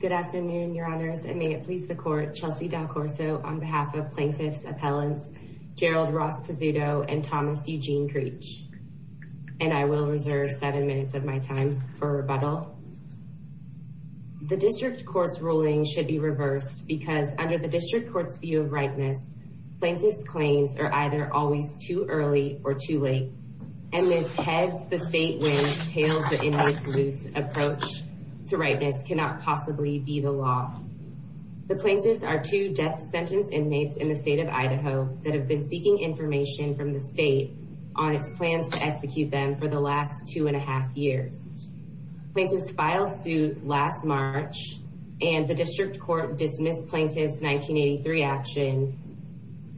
Good afternoon, Your Honors, and may it please the Court, Chelsea DelCorto, on behalf of Plaintiffs Appellants Gerald Ross Pizzuto and Thomas Eugene Creech, and I will reserve seven minutes of my time for rebuttal. The District Court's ruling should be reversed because, under the District Court's view of redness, plaintiff's claims are either always too early or too late, and this heads-the-state-way, tail-to-inmates-loose approach to redness cannot possibly be the law. The plaintiffs are two death sentence inmates in the state of Idaho that have been seeking information from the state on its plans to execute them for the last two and a half years. Plaintiffs filed suit last March, and the District Court dismissed plaintiff's 1983 action,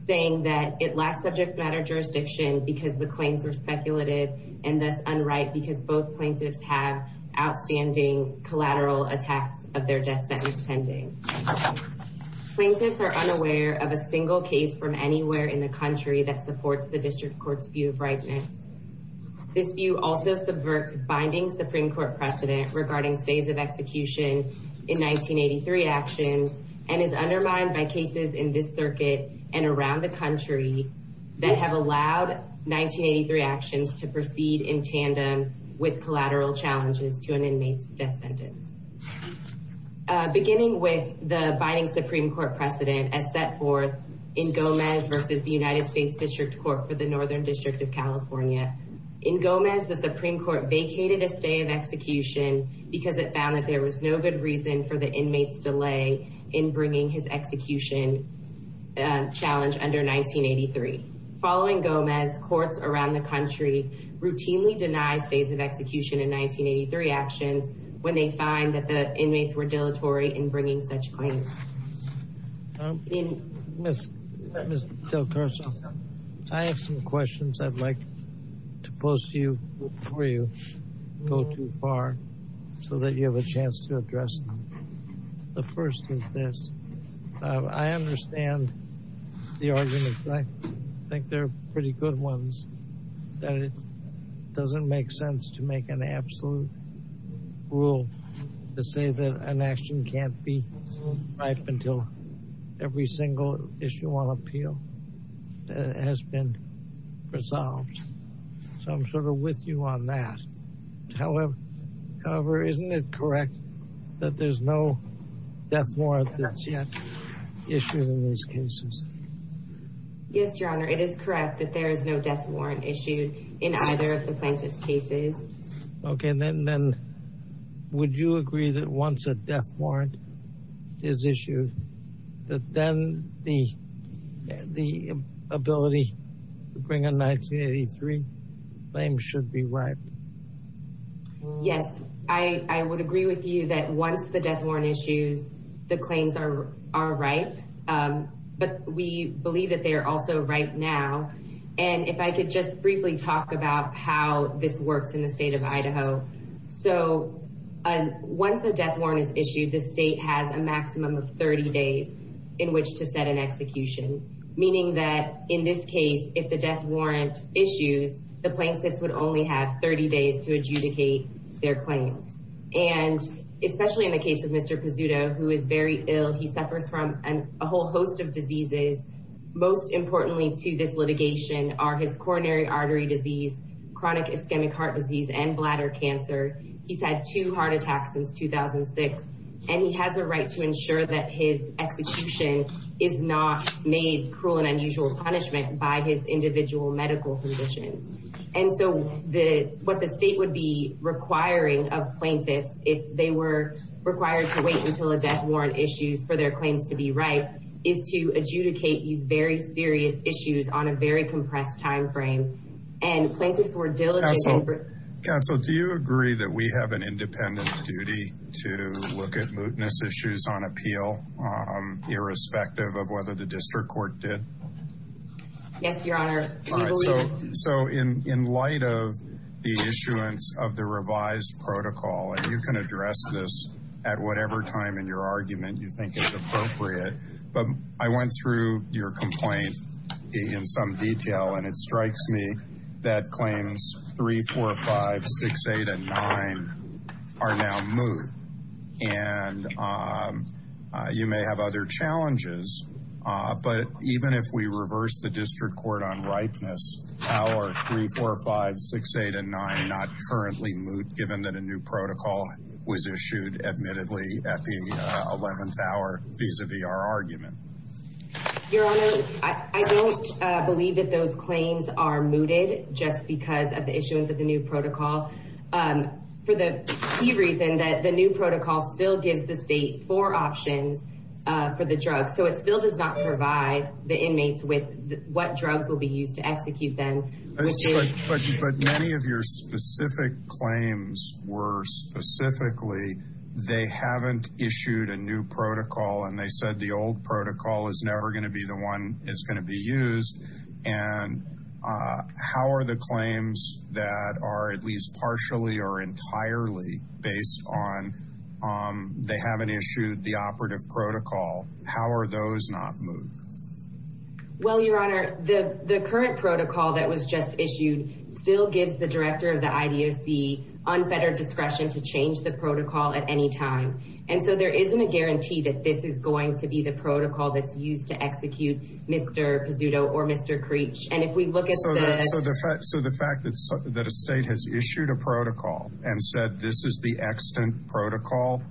saying that it lacked subject-matter jurisdiction because the claims were speculative and thus unright because both plaintiffs have outstanding collateral attacks of their death sentence pending. Plaintiffs are unaware of a single case from anywhere in the country that supports the District Court's view of redness. This view also subverts binding Supreme Court precedent regarding phase of execution in 1983 actions and is undermined by cases in this circuit and around the country that have allowed 1983 actions to proceed in tandem with collateral challenges to an inmate's death sentence. Beginning with the binding Supreme Court precedent as set forth in Gomez v. United States District Court for the Northern District of California, in Gomez, the Supreme Court vacated a stay of execution because it found that there was no good reason for the inmate's delay in bringing his execution challenge under 1983. Following Gomez, courts around the country routinely deny phase of execution in 1983 actions when they find that the inmates were dilatory in bringing such claims. Mr. Del Torso, I have some questions I'd like to pose to you before you go too far so that you have a chance to address them. The first is this. I understand the arguments. I think they're pretty good ones. It doesn't make sense to make an absolute rule to say that an action can't be right until every single issue on appeal has been resolved. So I'm sort of with you on that. However, isn't it correct that there's no death warrant that's yet issued in these cases? Yes, Your Honor. It is correct that there is no death warrant issued in either of the plaintiff's cases. Okay. Then would you agree that once a death warrant is issued, that then the ability to bring a 1983 claim should be right? Yes. I would agree with you that once the death warrant is issued, the claims are right. But we believe that they are also right now. And if I could just briefly talk about how this works in the state of Idaho. So once a death warrant is issued, the state has a maximum of 30 days in which to set an execution, meaning that in this case, if the death warrant is issued, the plaintiff would only have 30 days to adjudicate their claim. And especially in the case of Mr. Pizzuto, who is very ill, he suffers from a whole host of diseases. Most importantly to this litigation are his coronary artery disease, chronic ischemic heart disease, and bladder cancer. He's had two heart attacks since 2006, and he has a right to ensure that his execution is not made cruel and unusual punishment by his individual medical physician. And so what the state would be requiring of plaintiffs, if they were required to wait until a death warrant issued for their claims to be right, is to adjudicate these very serious issues on a very compressed timeframe. Counsel, do you agree that we have an independent duty to look at mootness issues on appeal, irrespective of whether the district court did? Yes, Your Honor. So in light of the issuance of the revised protocol, and you can address this at whatever time in your argument you think is appropriate, but I went through your complaint in some detail, and it strikes me that claims 3, 4, 5, 6, 8, and 9 are now moot. And you may have other challenges, but even if we reverse the district court on rightness, how are 3, 4, 5, 6, 8, and 9 not currently moot, given that a new protocol was issued admittedly at the 11th hour, vis-a-vis our argument? Your Honor, I don't believe that those claims are mooted just because of the issuance of the new protocol. For the key reason that the new protocol still gives the state four options for the drug, so it still does not provide the inmates with what drugs will be used to execute them. But many of your specific claims were specifically they haven't issued a new protocol, and they said the old protocol is never going to be the one that's going to be used, and how are the claims that are at least partially or entirely based on they haven't issued the operative protocol, how are those not moot? Well, Your Honor, the current protocol that was just issued still gives the director of the IDOC unfettered discretion to change the protocol at any time, and so there isn't a guarantee that this is going to be the protocol that's used to execute Mr. Pizzuto or Mr. Creech. So the fact that a state has issued a protocol and said this is the extant protocol,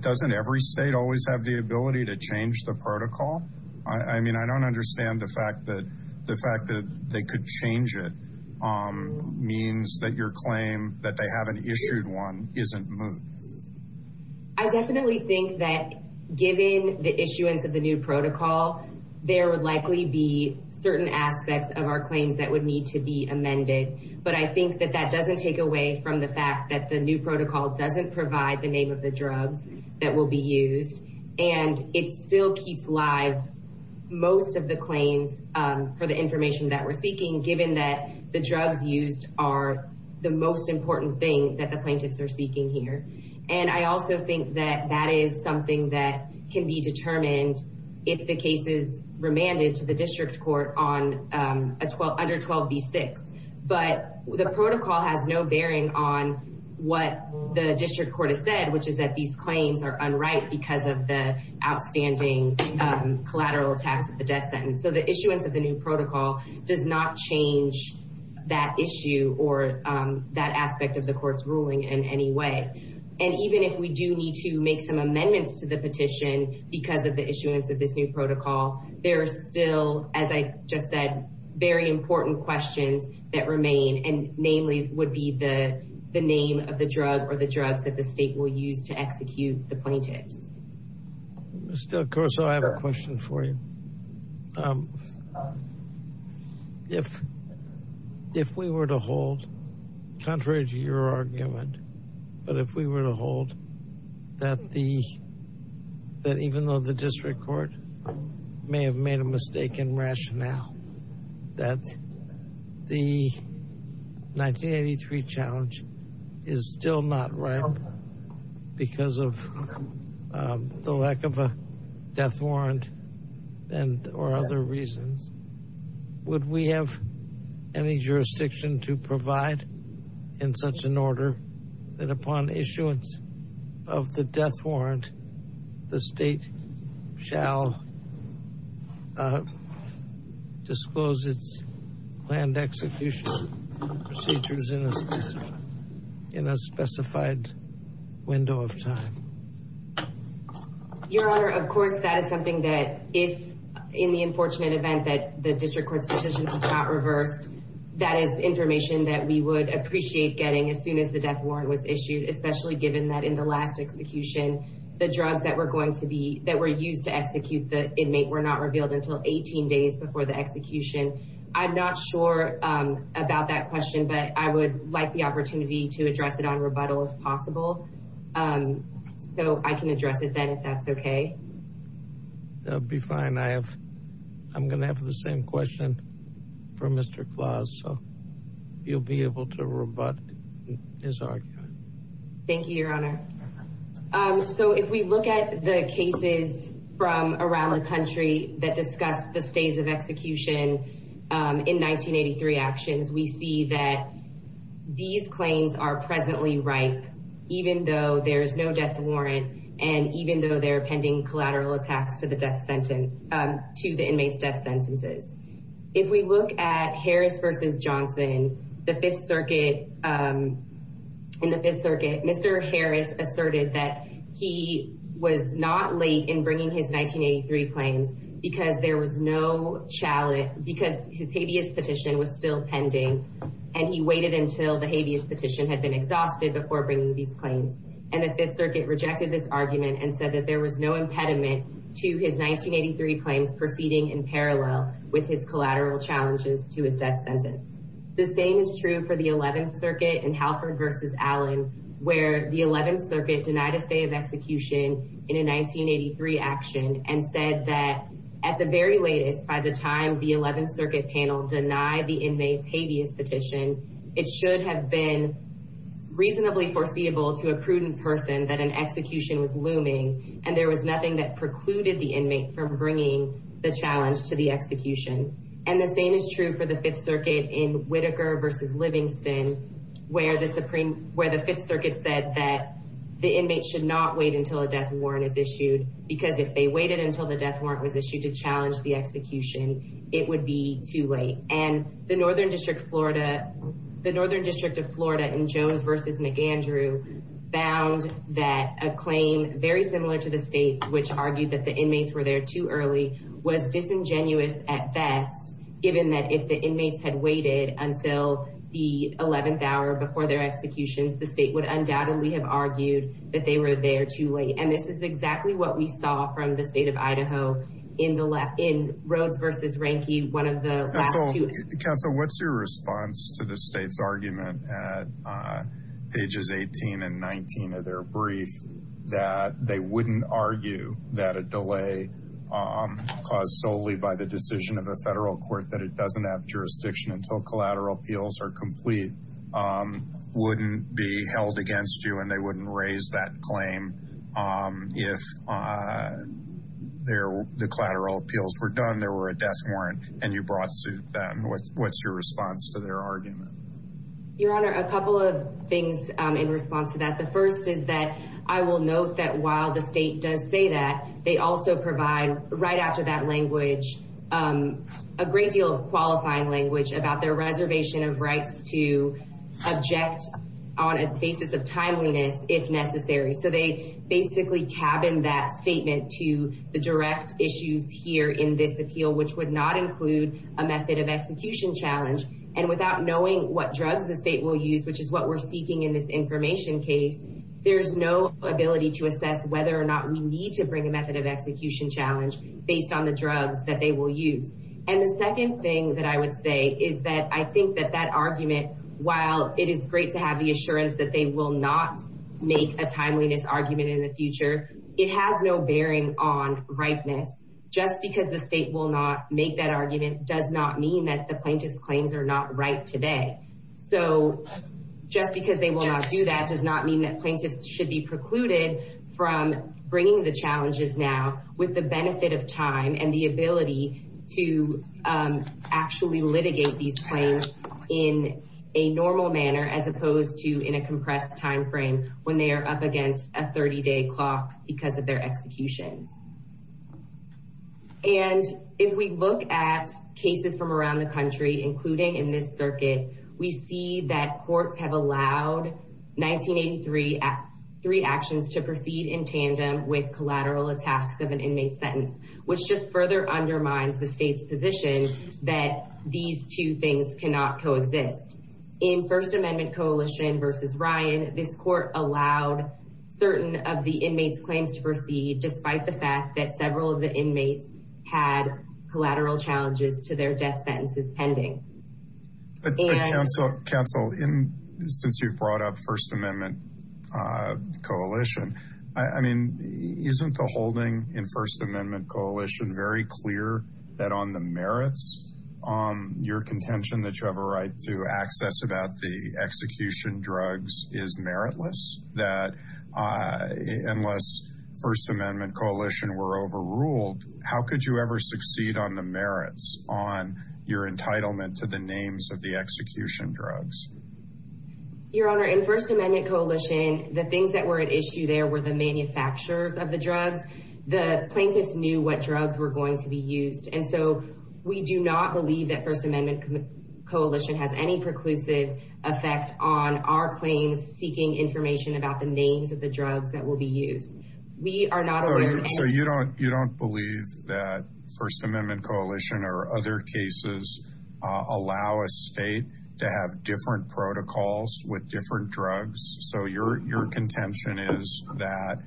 doesn't every state always have the ability to change the protocol? I mean, I don't understand the fact that they could change it means that your claim that they haven't issued one isn't moot. I definitely think that given the issuance of the new protocol, there would likely be certain aspects of our claims that would need to be amended, but I think that that doesn't take away from the fact that the new protocol doesn't provide the name of the drug that will be used, and it still keeps live most of the claims for the information that we're seeking, given that the drugs used are the most important thing that the plaintiffs are seeking here. And I also think that that is something that can be determined if the case is remanded to the district court under 12B6, but the protocol has no bearing on what the district court has said, which is that these claims are unright because of the outstanding collateral attacks of the death sentence. So the issuance of the new protocol does not change that issue or that aspect of the court's ruling in any way. And even if we do need to make some amendments to the petition because of the issuance of this new protocol, there's still, as I just said, very important questions that remain, and namely would be the name of the drug or the drug that the state will use to execute the plaintiff. Mr. Caruso, I have a question for you. If we were to hold, contrary to your argument, but if we were to hold that even though the district court may have made a mistake in rationale, that the 1983 challenge is still not right because of the lack of a death warrant or other reasons. Would we have any jurisdiction to provide in such an order that upon issuance of the death warrant, the state shall disclose its planned execution procedures in a specified window of time? Your Honor, of course, that is something that if in the unfortunate event that the district court's position is not reversed, that is information that we would appreciate getting as soon as the death warrant was issued, especially given that in the last execution, the drugs that were going to be, that were used to execute the inmate were not revealed until 18 days before the execution. I'm not sure about that question, but I would like the opportunity to address it on rebuttal if possible, so I can address it then if that's okay. That would be fine. I have, I'm going to have the same question for Mr. Claus, so you'll be able to rebut his argument. Thank you, Your Honor. So if we look at the cases from around the country that discuss the phase of execution in 1983 actions, we see that these claims are presently right, even though there's no death warrant, and even though they're pending collateral attacks to the death sentence, to the inmate's death sentences. If we look at Harris v. Johnson in the Fifth Circuit, Mr. Harris asserted that he was not late in bringing his 1983 claims because there was no chalice, because his habeas petition was still pending, and he waited until the habeas petition had been exhausted before bringing these claims. And the Fifth Circuit rejected this argument and said that there was no impediment to his 1983 claims proceeding in parallel with his collateral challenges to his death sentence. The same is true for the Eleventh Circuit in Halford v. Allen, where the Eleventh Circuit denied a phase of execution in a 1983 action and said that at the very latest, by the time the Eleventh Circuit panel denied the inmate's habeas petition, it should have been reasonably foreseeable to a prudent person that an execution was looming, and there was nothing that precluded the inmate from bringing the challenge to the execution. And the same is true for the Fifth Circuit in Whitaker v. Livingston, where the Fifth Circuit said that the inmate should not wait until a death warrant is issued, because if they waited until the death warrant was issued to challenge the execution, it would be too late. And the Northern District of Florida in Jones v. McAndrew found that a claim very similar to the state's, which argued that the inmates were there too early, was disingenuous at best, given that if the inmates had waited until the 11th hour before their execution, the state would undoubtedly have argued that they were there too late. And this is exactly what we saw from the state of Idaho in Rhoades v. Ranke, one of the last two. Counsel, what's your response to the state's argument at pages 18 and 19 of their brief that they wouldn't argue that a delay caused solely by the decision of a federal court that it doesn't have jurisdiction until collateral appeals are complete wouldn't be held against you, and they wouldn't raise that claim if the collateral appeals were done, there were a death warrant, and you brought suit then? What's your response to their argument? Your Honor, a couple of things in response to that. The first is that I will note that while the state does say that, they also provide right after that language, a great deal of qualifying language about their reservation of rights to object on a basis of timeliness, if necessary. So they basically cabin that statement to the direct issues here in this appeal, which would not include a method of execution challenge. And without knowing what drugs the state will use, which is what we're seeking in this information case, there's no ability to assess whether or not we need to bring a method of execution challenge based on the drugs that they will use. And the second thing that I would say is that I think that that argument, while it is great to have the assurance that they will not make a timeliness argument in the future, it has no bearing on ripeness. Just because the state will not make that argument does not mean that the plaintiff's claims are not right today. So just because they will not do that does not mean that plaintiffs should be precluded from bringing the challenges now with the benefit of time and the ability to actually litigate these claims in a normal manner as opposed to in a compressed timeframe when they are up against a 30-day clock because of their execution. And if we look at cases from around the country, including in this circuit, we see that courts have allowed 1983 three actions to proceed in tandem with collateral attacks of an inmate sentence, which just further undermines the state's position that these two things cannot coexist. In First Amendment Coalition versus Ryan, this court allowed certain of the inmates' claims to proceed despite the fact that several of the inmates had collateral challenges to their death sentences pending. Counsel, since you brought up First Amendment Coalition, isn't the holding in First Amendment Coalition very clear that on the merits, your contention that you have a right to access about the execution drugs is meritless? That unless First Amendment Coalition were overruled, how could you ever succeed on the merits on your entitlement to the names of the execution drugs? Your Honor, in First Amendment Coalition, the things that were at issue there were the manufacturers of the drugs. The plaintiffs knew what drugs were going to be used. And so we do not believe that First Amendment Coalition has any preclusive effect on our claims seeking information about the names of the drugs that will be used. So you don't believe that First Amendment Coalition or other cases allow a state to have different protocols with different drugs? So your contention is that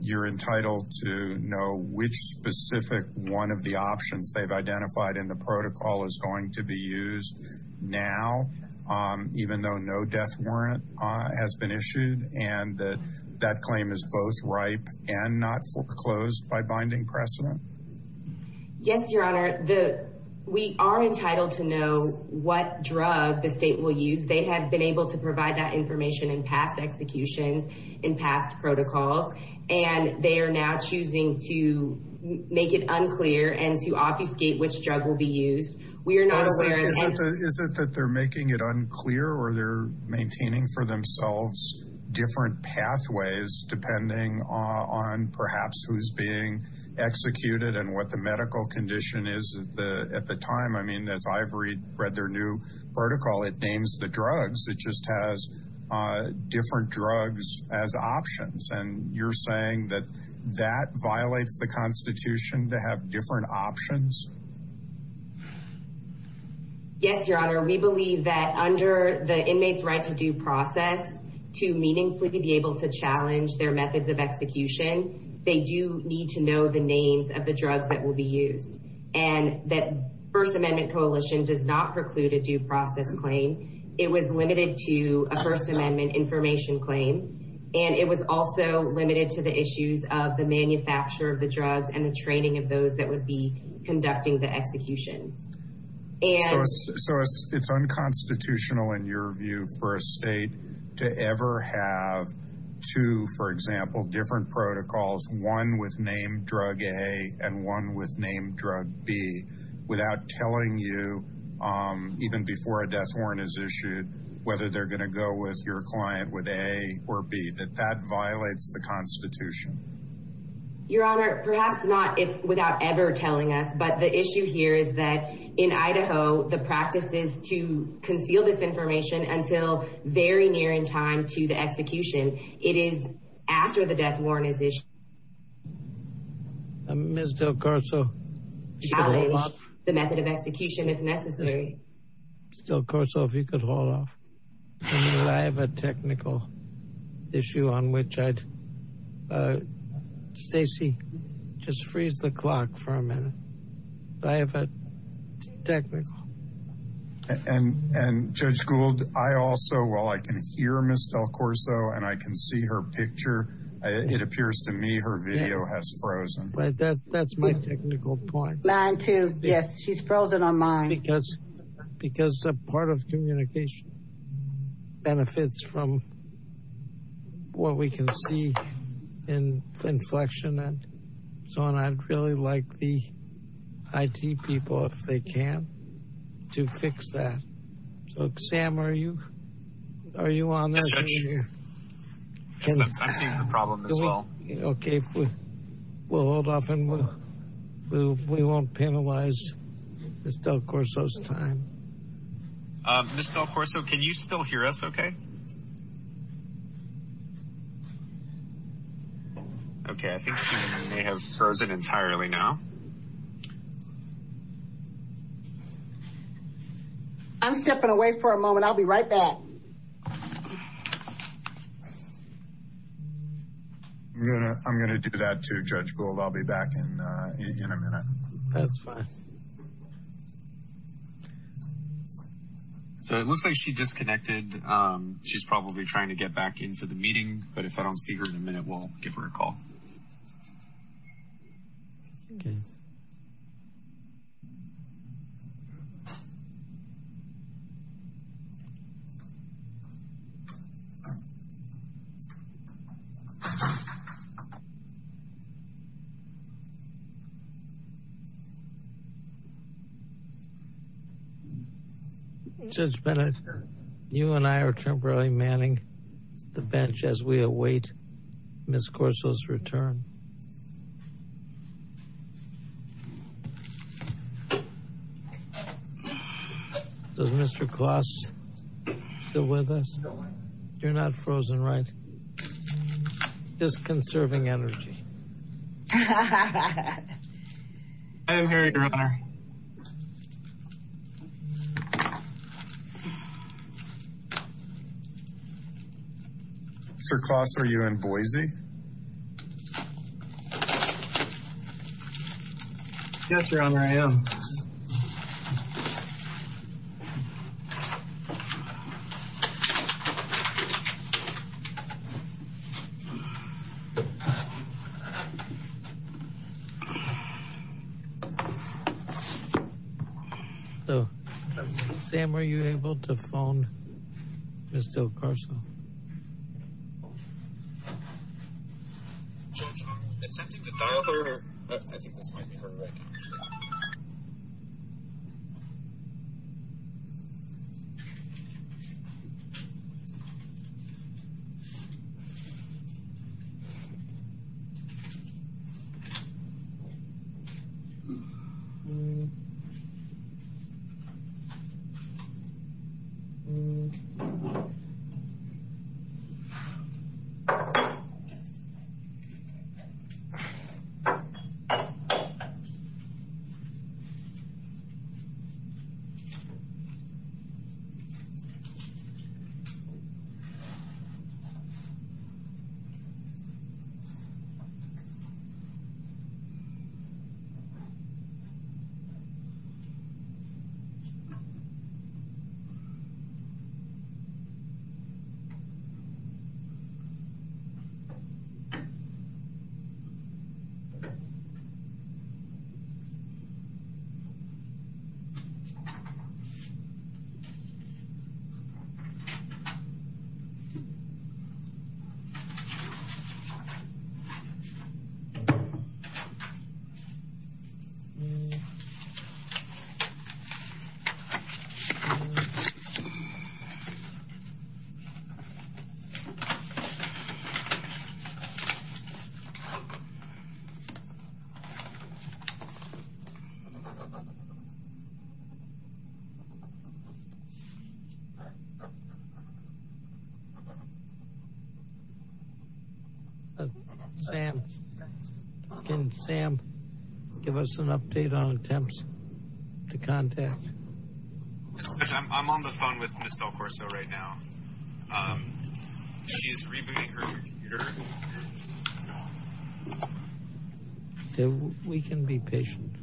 you're entitled to know which specific one of the options they've identified in the protocol is going to be used now, even though no death warrant has been issued, and that that claim is both ripe and not foreclosed by binding precedent? Yes, Your Honor. We are entitled to know what drug the state will use. They have been able to provide that information in past executions, in past protocols, and they are now choosing to make it unclear and to obfuscate which drug will be used. Is it that they're making it unclear or they're maintaining for themselves different pathways depending on perhaps who's being executed and what the medical condition is at the time? I mean, as I've read their new protocol, it names the drugs. It just has different drugs as options. And you're saying that that violates the Constitution to have different options? Yes, Your Honor. We believe that under the inmates' right to due process, to meaningfully be able to challenge their methods of execution, they do need to know the names of the drugs that will be used, and that First Amendment Coalition does not preclude a due process claim. It was limited to a First Amendment information claim, and it was also limited to the issues of the manufacture of the drugs and the training of those that would be conducting the execution. So it's unconstitutional in your view for a state to ever have two, for example, different protocols, one with name drug A and one with name drug B, without telling you, even before a death warrant is issued, whether they're going to go with your client with A or B. That violates the Constitution? Your Honor, perhaps not without ever telling us, but the issue here is that in Idaho, the practices to conceal this information until very near in time to the execution, it is after the death warrant is issued. Ms. Del Corso, challenge the method of execution if necessary. And Judge Gould, I also, while I can hear Ms. Del Corso and I can see her picture, it appears to me her video has frozen. Mine too. Yes, she's frozen on mine. Because a part of communication benefits from what we can see in inflection and so on. I'd really like the IT people, if they can, to fix that. Look, Sam, are you, are you on this? I see the problem as well. Okay, we'll hold off and we won't penalize Ms. Del Corso's time. Ms. Del Corso, can you still hear us okay? Okay, I think it may have frozen entirely now. I'm stepping away for a moment. I'll be right back. I'm going to do that too, Judge Gould. I'll be back in a minute. That's fine. So it looks like she disconnected. She's probably trying to get back into the meeting, but if I don't see her in a minute, we'll give her a call. Judge Bennett, you and I are temporarily manning the bench as we await Ms. Corso's return. Does Mr. Klaus still with us? You're not frozen, right? Just conserving energy. Mr. Klaus, are you in Boise? Yes, Your Honor, I am. So, Sam, were you able to phone Ms. Del Corso? Yes, Your Honor, I was able to phone Ms. Del Corso. I think that's my number. Thank you. Thank you. Sam, can Sam give us an update on attempts to contact Ms. Del Corso? We can be patient. We can be patient.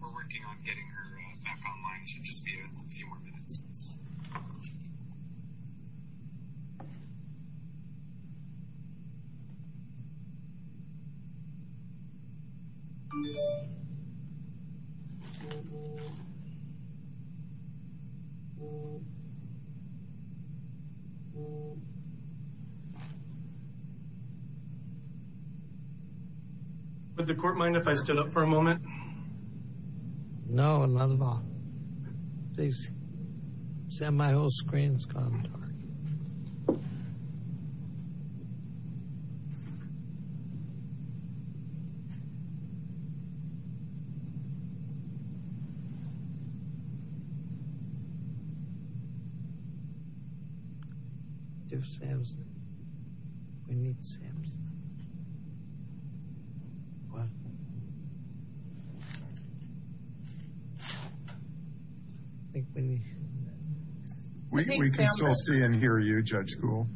We're working on getting her back online. She'll just be in a few more minutes. Would the court mind if I stood up for a moment? No, not at all. Sam, my whole screen's gone. There's Sam's name. We need Sam's name. What? We can't all see and hear you, Judge Kuhl.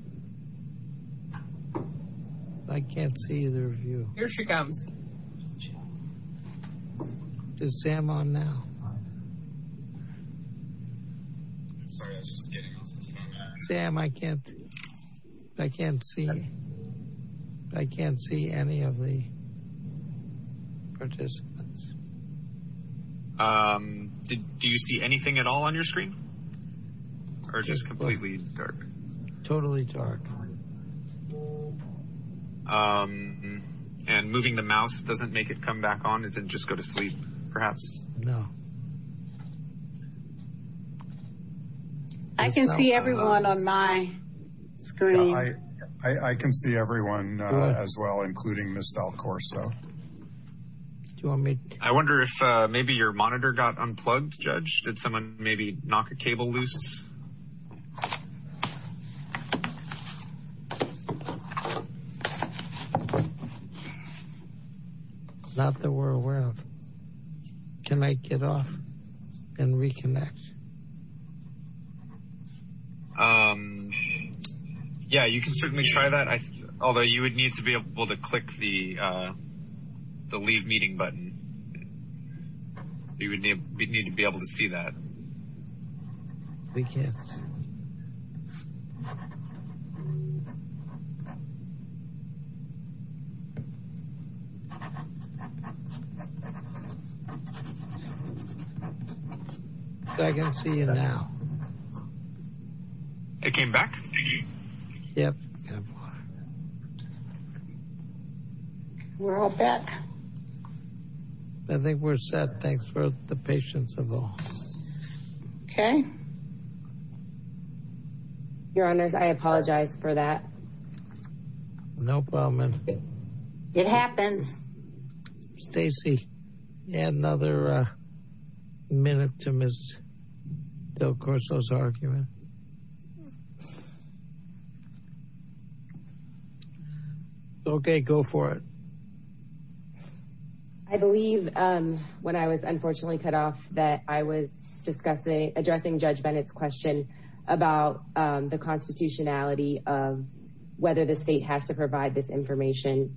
I can't see either of you. Here she comes. Is Sam on now? Sorry, I was just kidding. Sam, I can't see any of the participants. Do you see anything at all on your screen? Or just completely dark? Totally dark. And moving the mouse doesn't make it come back on? It didn't just go to sleep, perhaps? No. I can see everyone on my screen. I can see everyone as well, including Ms. Del Corso. I wonder if maybe your monitor got unplugged, Judge? Did someone maybe knock a cable loose? Not that we're aware of. Can I get off and reconnect? Yeah, you can certainly try that. Although you would need to be able to click the leave meeting button. You would need to be able to see that. We can't. I can see you now. It came back to me? Yep. We're all back? I think we're set, thanks for the patience of all. Okay. Your Honor, I apologize for that. No problem. It happened. Stacy, add another minute to Ms. Del Corso's argument. Okay, go for it. I believe when I was unfortunately cut off that I was addressing Judge Bennett's question about the constitutionality of whether the state has to provide this information.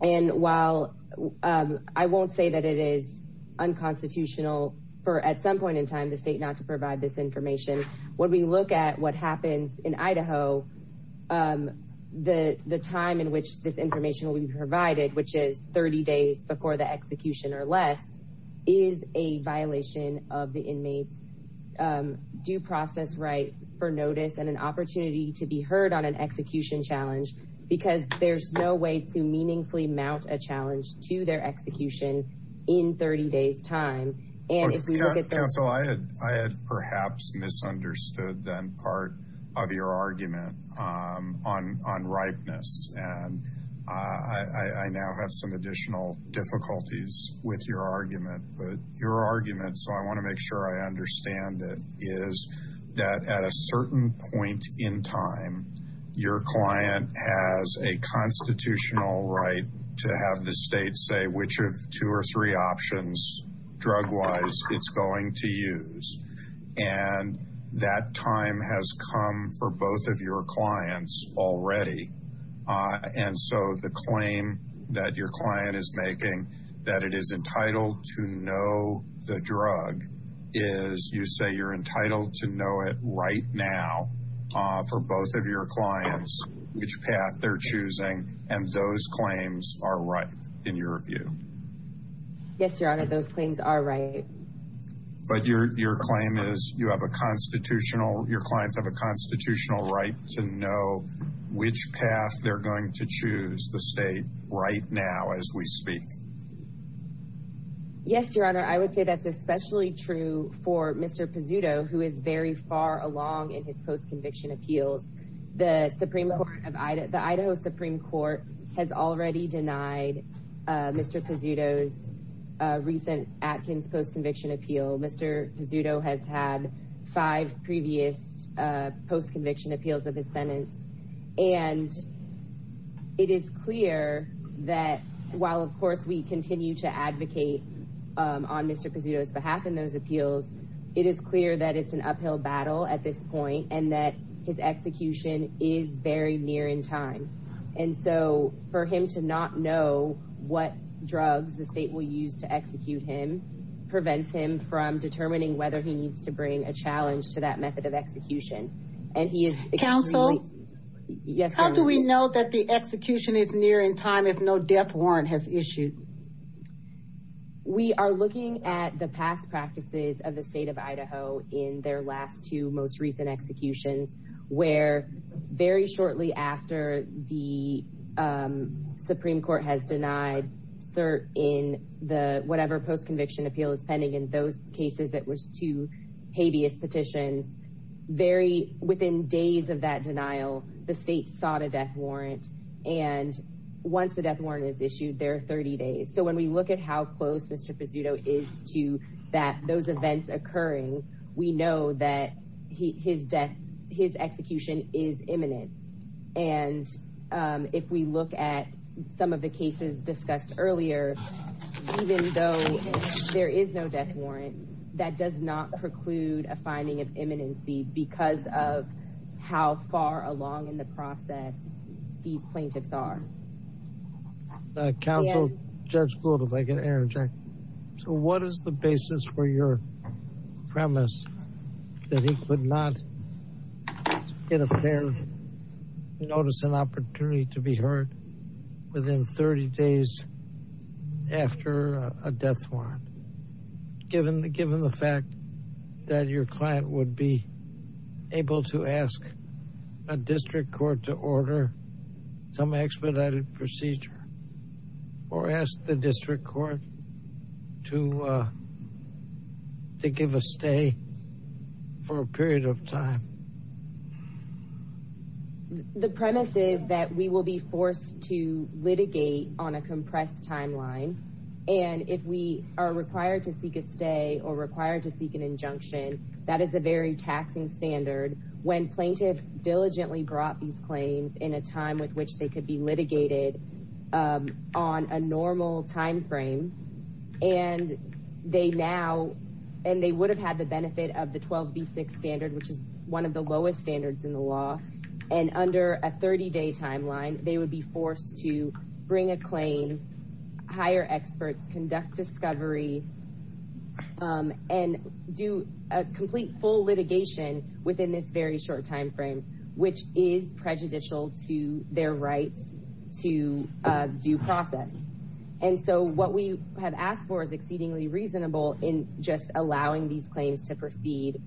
And while I won't say that it is unconstitutional for at some point in time the state not to provide this information, when we look at what happens in Idaho, the time in which this information will be provided, which is 30 days before the execution or less, is a violation of the inmate's due process right for notice and an opportunity to be heard on an execution challenge. Because there's no way to meaningfully mount a challenge to their execution in 30 days' time. I had perhaps misunderstood then part of your argument on ripeness. And I now have some additional difficulties with your argument. But your argument, so I want to make sure I understand it, is that at a certain point in time, your client has a constitutional right to have the state say which of two or three options drug-wise it's going to use. And that time has come for both of your clients already. And so the claim that your client is making that it is entitled to know the drug is you say you're entitled to know it right now for both of your clients which path they're choosing. And those claims are right in your view. Yes, Your Honor, those claims are right. But your claim is you have a constitutional, your clients have a constitutional right to know which path they're going to choose the state right now as we speak. Yes, Your Honor, I would say that's especially true for Mr. Pizzuto who is very far along in his post-conviction appeal. The Idaho Supreme Court has already denied Mr. Pizzuto's recent Atkins post-conviction appeal. Mr. Pizzuto has had five previous post-conviction appeals of his sentence. And it is clear that while of course we continue to advocate on Mr. Pizzuto's behalf in those appeals, it is clear that it's an uphill battle at this point and that his execution is very near in time. And so for him to not know what drugs the state will use to execute him prevents him from determining whether he needs to bring a challenge to that method of execution. Counsel? Yes, Your Honor. How do we know that the execution is near in time if no death warrant has issued? We are looking at the past practices of the state of Idaho in their last two most recent executions where very shortly after the Supreme Court has denied cert in the whatever post-conviction appeal is pending. In those cases, it was two habeas petitions. Very within days of that denial, the state sought a death warrant. And once the death warrant is issued, there are 30 days. So when we look at how close Mr. Pizzuto is to those events occurring, we know that his execution is imminent. And if we look at some of the cases discussed earlier, even though there is no death warrant, that does not preclude a finding of imminency because of how far along in the process these plaintiffs are. Counsel, Judge Flood, if I can interject. So what is the basis for your premise that he could not get a fair notice and opportunity to be heard within 30 days after a death warrant, given the fact that your client would be able to ask a district court to order some expedited procedure or ask the district court to give a stay for a period of time? The premise is that we will be forced to litigate on a compressed timeline. And if we are required to seek a stay or required to seek an injunction, that is a very taxing standard. When plaintiffs diligently brought these claims in a time with which they could be litigated on a normal timeframe and they now and they would have had the benefit of the 12B6 standard, which is one of the lowest standards in the law. And under a 30-day timeline, they would be forced to bring a claim, hire experts, conduct discovery, and do a complete full litigation within this very short timeframe, which is prejudicial to their right to due process. And so what we have asked for is exceedingly reasonable in just allowing these claims to proceed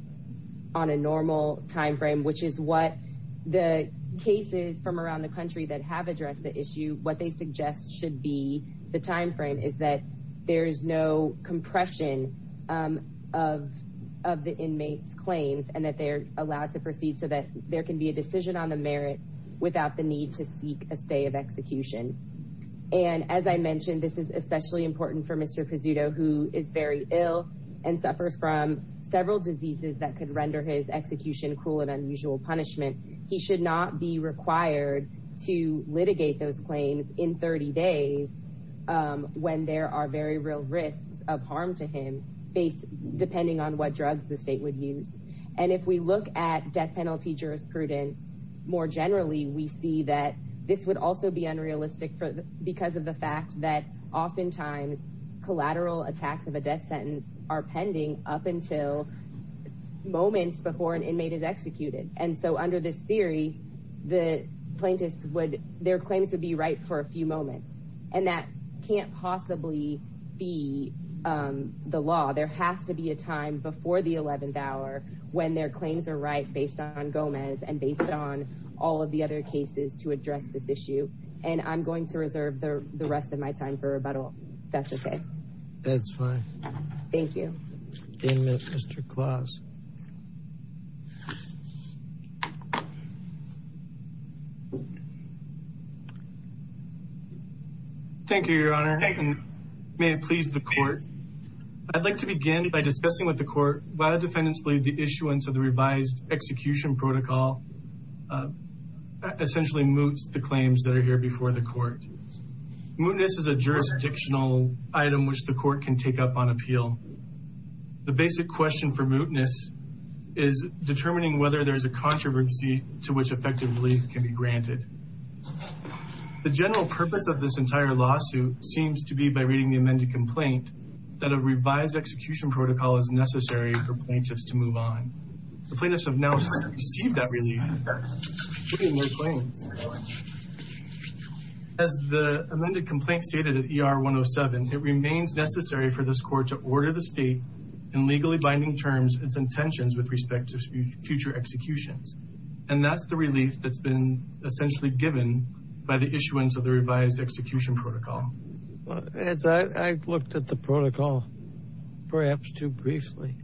on a normal timeframe, which is what the cases from around the country that have addressed the issue, what they suggest should be the timeframe is that there is no compression of the inmates' claims and that they're allowed to proceed so that there can be a decision on the merit without the need to seek a stay of execution. And as I mentioned, this is especially important for Mr. Casuto, who is very ill and suffers from several diseases that could render his execution cruel and unusual punishment. He should not be required to litigate those claims in 30 days when there are very real risks of harm to him, depending on what drugs the state would use. And if we look at death penalty jurisprudence more generally, we see that this would also be unrealistic because of the fact that oftentimes collateral attacks of a death sentence are pending up until moments before an inmate is executed. And so under this theory, the plaintiffs would, their claims would be right for a few moments and that can't possibly be the law. There has to be a time before the 11th hour when their claims are right based on Gomez and based on all of the other cases to address this issue. And I'm going to reserve the rest of my time for rebuttal. That's okay. That's fine. Thank you. Daniel, Mr. Claus. Thank you, Your Honor. May it please the court. I'd like to begin by discussing with the court why defendants believe the issuance of the revised execution protocol essentially moots the claims that are here before the court. Mootness is a jurisdictional item which the court can take up on appeal. The basic question for mootness is determining whether there's a controversy to which effective relief can be granted. The general purpose of this entire lawsuit seems to be by reading the amended complaint that a revised execution protocol is necessary for plaintiffs to move on. The plaintiffs have now received that relief. As the amended complaint stated in ER 107, it remains necessary for this court to order the state in legally binding terms its intentions with respect to future executions. And that's the relief that's been essentially given by the issuance of the revised execution protocol. I looked at the protocol perhaps too briefly,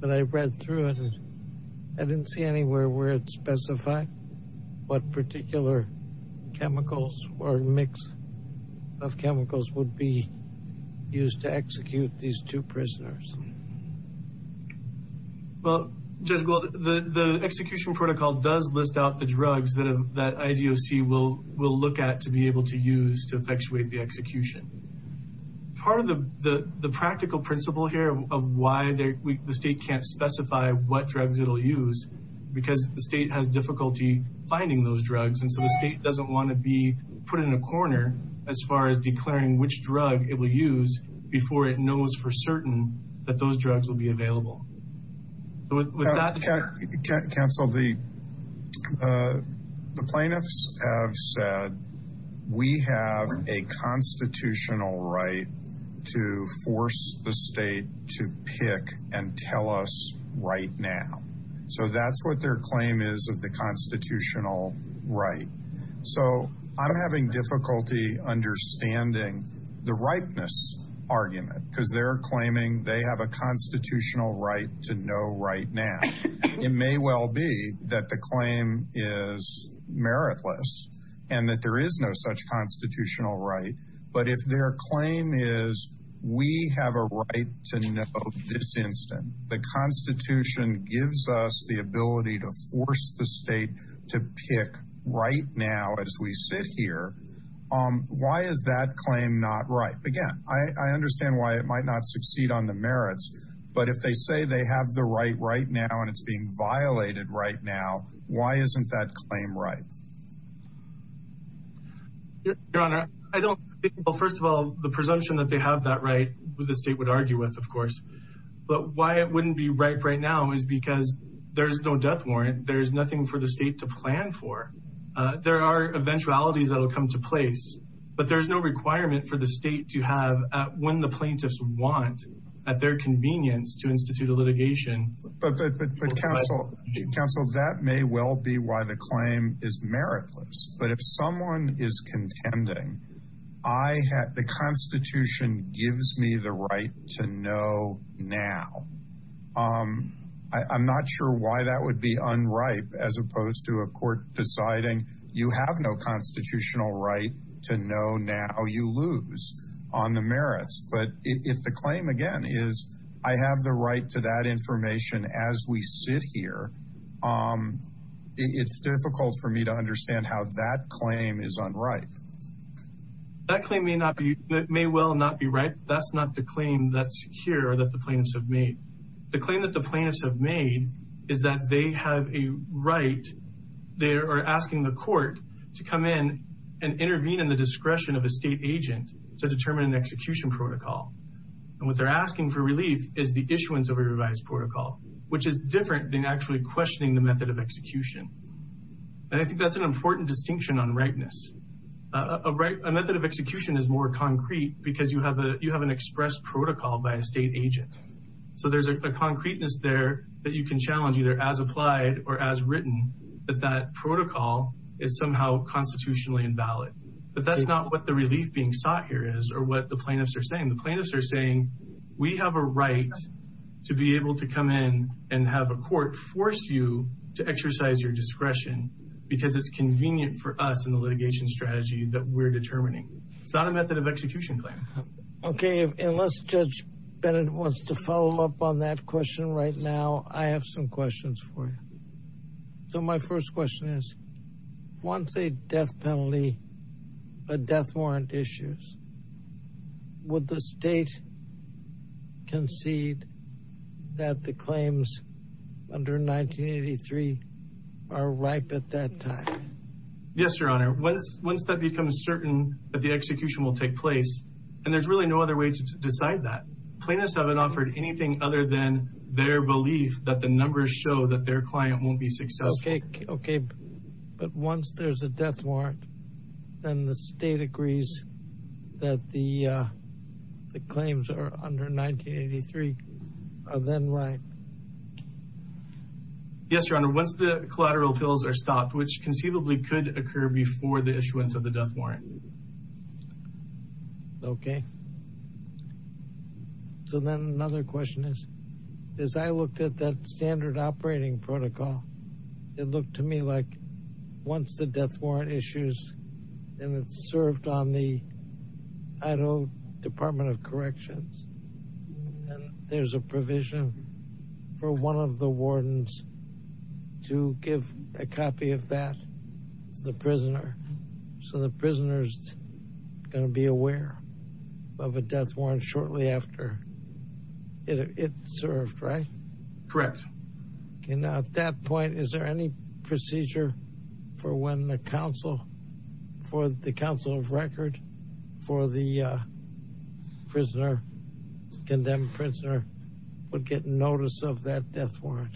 but I read through it. I didn't see anywhere where it specified what particular chemicals or mix of chemicals would be used to execute these two prisoners. The execution protocol does list out the drugs that IDOC will look at to be able to use to effectuate the execution. Part of the practical principle here of why the state can't specify what drugs it will use is because the state has difficulty finding those drugs. And so the state doesn't want to be put in a corner as far as declaring which drug it will use before it knows for certain that those drugs will be available. The plaintiffs have said we have a constitutional right to force the state to pick and tell us right now. So that's what their claim is of the constitutional right. So I'm having difficulty understanding the rightness argument because they're claiming they have a constitutional right to know right now. It may well be that the claim is meritless and that there is no such constitutional right. But if their claim is we have a right to know this instance, the Constitution gives us the ability to force the state to pick right now as we sit here. Why is that claim not right? Again, I understand why it might not succeed on the merits. But if they say they have the right right now and it's being violated right now, why isn't that claim right? Your Honor, I don't think, well, first of all, the presumption that they have that right, the state would argue with, of course. But why it wouldn't be right right now is because there's no death warrant. There's nothing for the state to plan for. There are eventualities that will come to place, but there's no requirement for the state to have when the plaintiffs want at their convenience to institute a litigation. But counsel, counsel, that may well be why the claim is meritless. But if someone is contending, I have the Constitution gives me the right to know now. I'm not sure why that would be unripe as opposed to a court deciding you have no constitutional right to know now you lose on the merits. But if the claim, again, is I have the right to that information as we sit here, it's difficult for me to understand how that claim is unripe. That claim may not be that may well not be right. That's not the claim that's here that the plaintiffs have made. The claim that the plaintiffs have made is that they have a right. They are asking the court to come in and intervene in the discretion of a state agent to determine the execution protocol. And what they're asking for relief is the issuance of a revised protocol, which is different than actually questioning the method of execution. And I think that's an important distinction on rightness of right. A method of execution is more concrete because you have a you have an express protocol by a state agent. So there's a concreteness there that you can challenge either as applied or as written that that protocol is somehow constitutionally invalid. But that's not what the relief being sought here is or what the plaintiffs are saying. The plaintiffs are saying we have a right to be able to come in and have a court force you to exercise your discretion because it's convenient for us in the litigation strategy that we're determining. It's not a method of execution claim. OK, unless Judge Bennett wants to follow up on that question right now, I have some questions for you. So my first question is, once a death penalty, a death warrant issues. Would the state concede that the claims under 1983 are ripe at that time? Yes, Your Honor. Once that becomes certain that the execution will take place and there's really no other way to decide that plaintiffs haven't offered anything other than their belief that the numbers show that their client won't be successful. OK, OK. But once there's a death warrant and the state agrees that the claims are under 1983, then why? Yes, Your Honor, once the collateral bills are stopped, which conceivably could occur before the issuance of the death warrant. OK. So then another question is, as I looked at that standard operating protocol, it looked to me like once the death warrant issues and it served on the Idaho Department of Corrections, there's a provision for one of the wardens to give a copy of that. The prisoner. So the prisoner's going to be aware of a death warrant shortly after it served, right? Correct. And at that point, is there any procedure for when the counsel for the counsel of record for the prisoner, condemned prisoner, would get notice of that death warrant?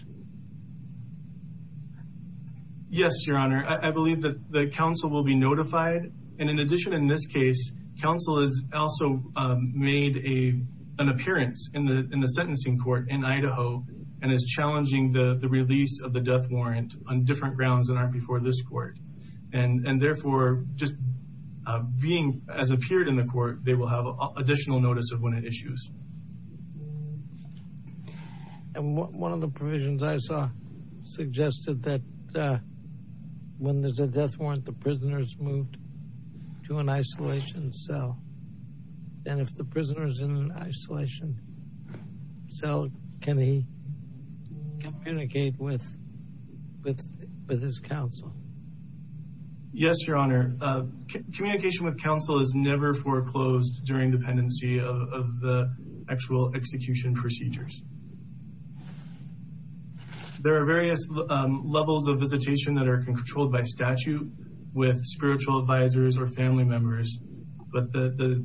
Yes, Your Honor. I believe that the counsel will be notified. And in addition, in this case, counsel has also made an appearance in the sentencing court in Idaho and is challenging the release of the death warrant on different grounds that aren't before this court. And therefore, just being as appeared in the court, they will have additional notice of when it issues. And one of the provisions I saw suggested that when there's a death warrant, the prisoners moved to an isolation cell. And if the prisoners in isolation cell, can he communicate with his counsel? Yes, Your Honor. Communication with counsel is never foreclosed during dependency of the actual execution procedures. There are various levels of visitation that are controlled by statute with spiritual advisors or family members, but the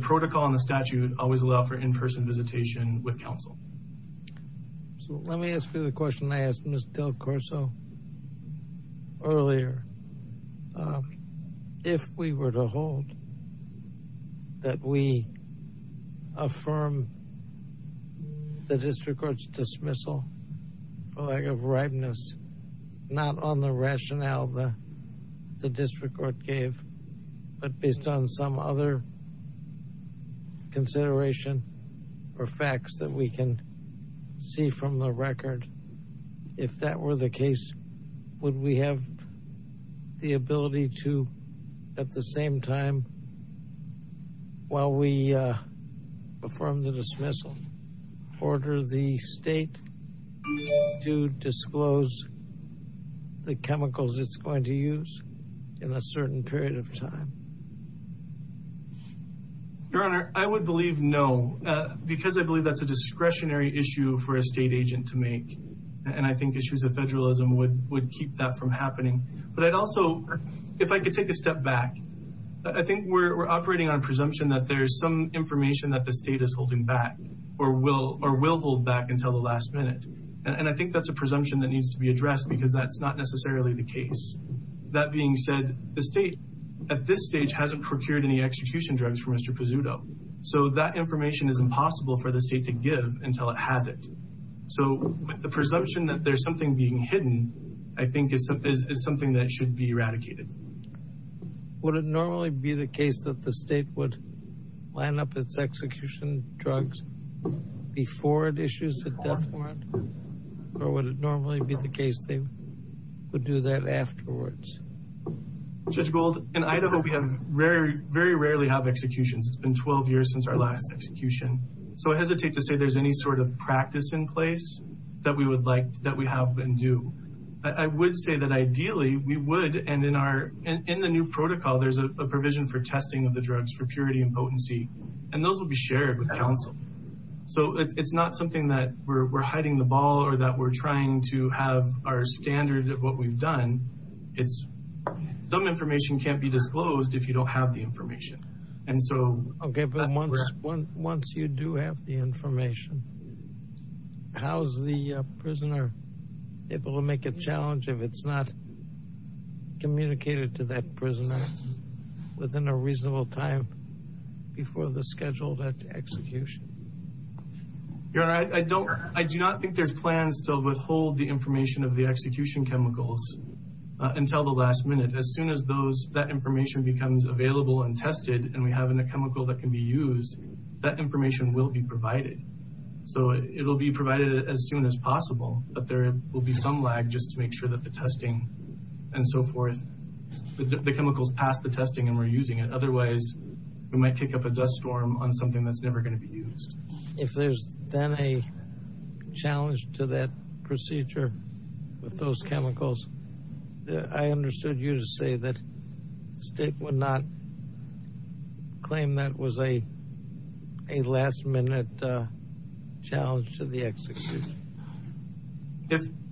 protocol and the statute always allow for in-person visitation with counsel. So let me ask you the question I asked Ms. Del Corso earlier. If we were to hold that we affirm the district court's dismissal of redness, not on the rationale that the district court gave, but based on some other consideration or facts that we can see from the record. If that were the case, would we have the ability to, at the same time, while we perform the dismissal, order the state to disclose the chemicals it's going to use in a certain period of time? Your Honor, I would believe no, because I believe that's a discretionary issue for a state agent to make. And I think issues of federalism would keep that from happening. But I'd also, if I could take a step back, I think we're operating on presumption that there's some information that the state is holding back or will hold back until the last minute. And I think that's a presumption that needs to be addressed because that's not necessarily the case. That being said, the state, at this stage, hasn't procured any execution drugs for Mr. Pezzuto. So that information is impossible for the state to give until it has it. So the presumption that there's something being hidden, I think it's something that should be eradicated. Would it normally be the case that the state would line up its execution drugs before it issues the death warrant? Or would it normally be the case they would do that afterwards? Judge Gould, I know that we very rarely have executions. It's been 12 years since our last execution. So I hesitate to say there's any sort of practice in place that we have been due. I would say that ideally, we would, and in the new protocol, there's a provision for testing of the drugs for purity and potency. And those will be shared with counsel. So it's not something that we're hiding the ball or that we're trying to have our standards of what we've done. Some information can't be disclosed if you don't have the information. Okay, but once you do have the information, how's the prisoner able to make a challenge if it's not communicated to that prisoner within a reasonable time before the scheduled execution? I do not think there's plans to withhold the information of the execution chemicals until the last minute. As soon as that information becomes available and tested and we have a chemical that can be used, that information will be provided. So it will be provided as soon as possible. But there will be some lag just to make sure that the testing and so forth, the chemicals pass the testing and we're using it. Otherwise, we might kick up a dust storm on something that's never going to be used. If there's been a challenge to that procedure with those chemicals, I understood you to say that the state would not claim that was a last minute challenge to the execution.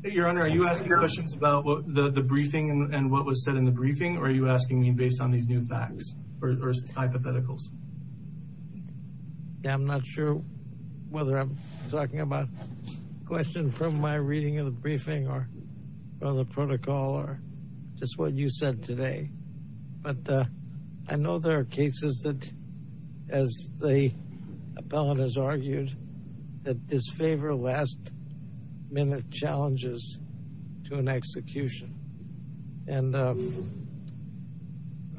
Your Honor, are you asking questions about the briefing and what was said in the briefing or are you asking me based on these new facts or hypotheticals? I'm not sure whether I'm talking about a question from my reading of the briefing or the protocol or just what you said today. But I know there are cases that, as the appellant has argued, that disfavor last minute challenges to an execution. And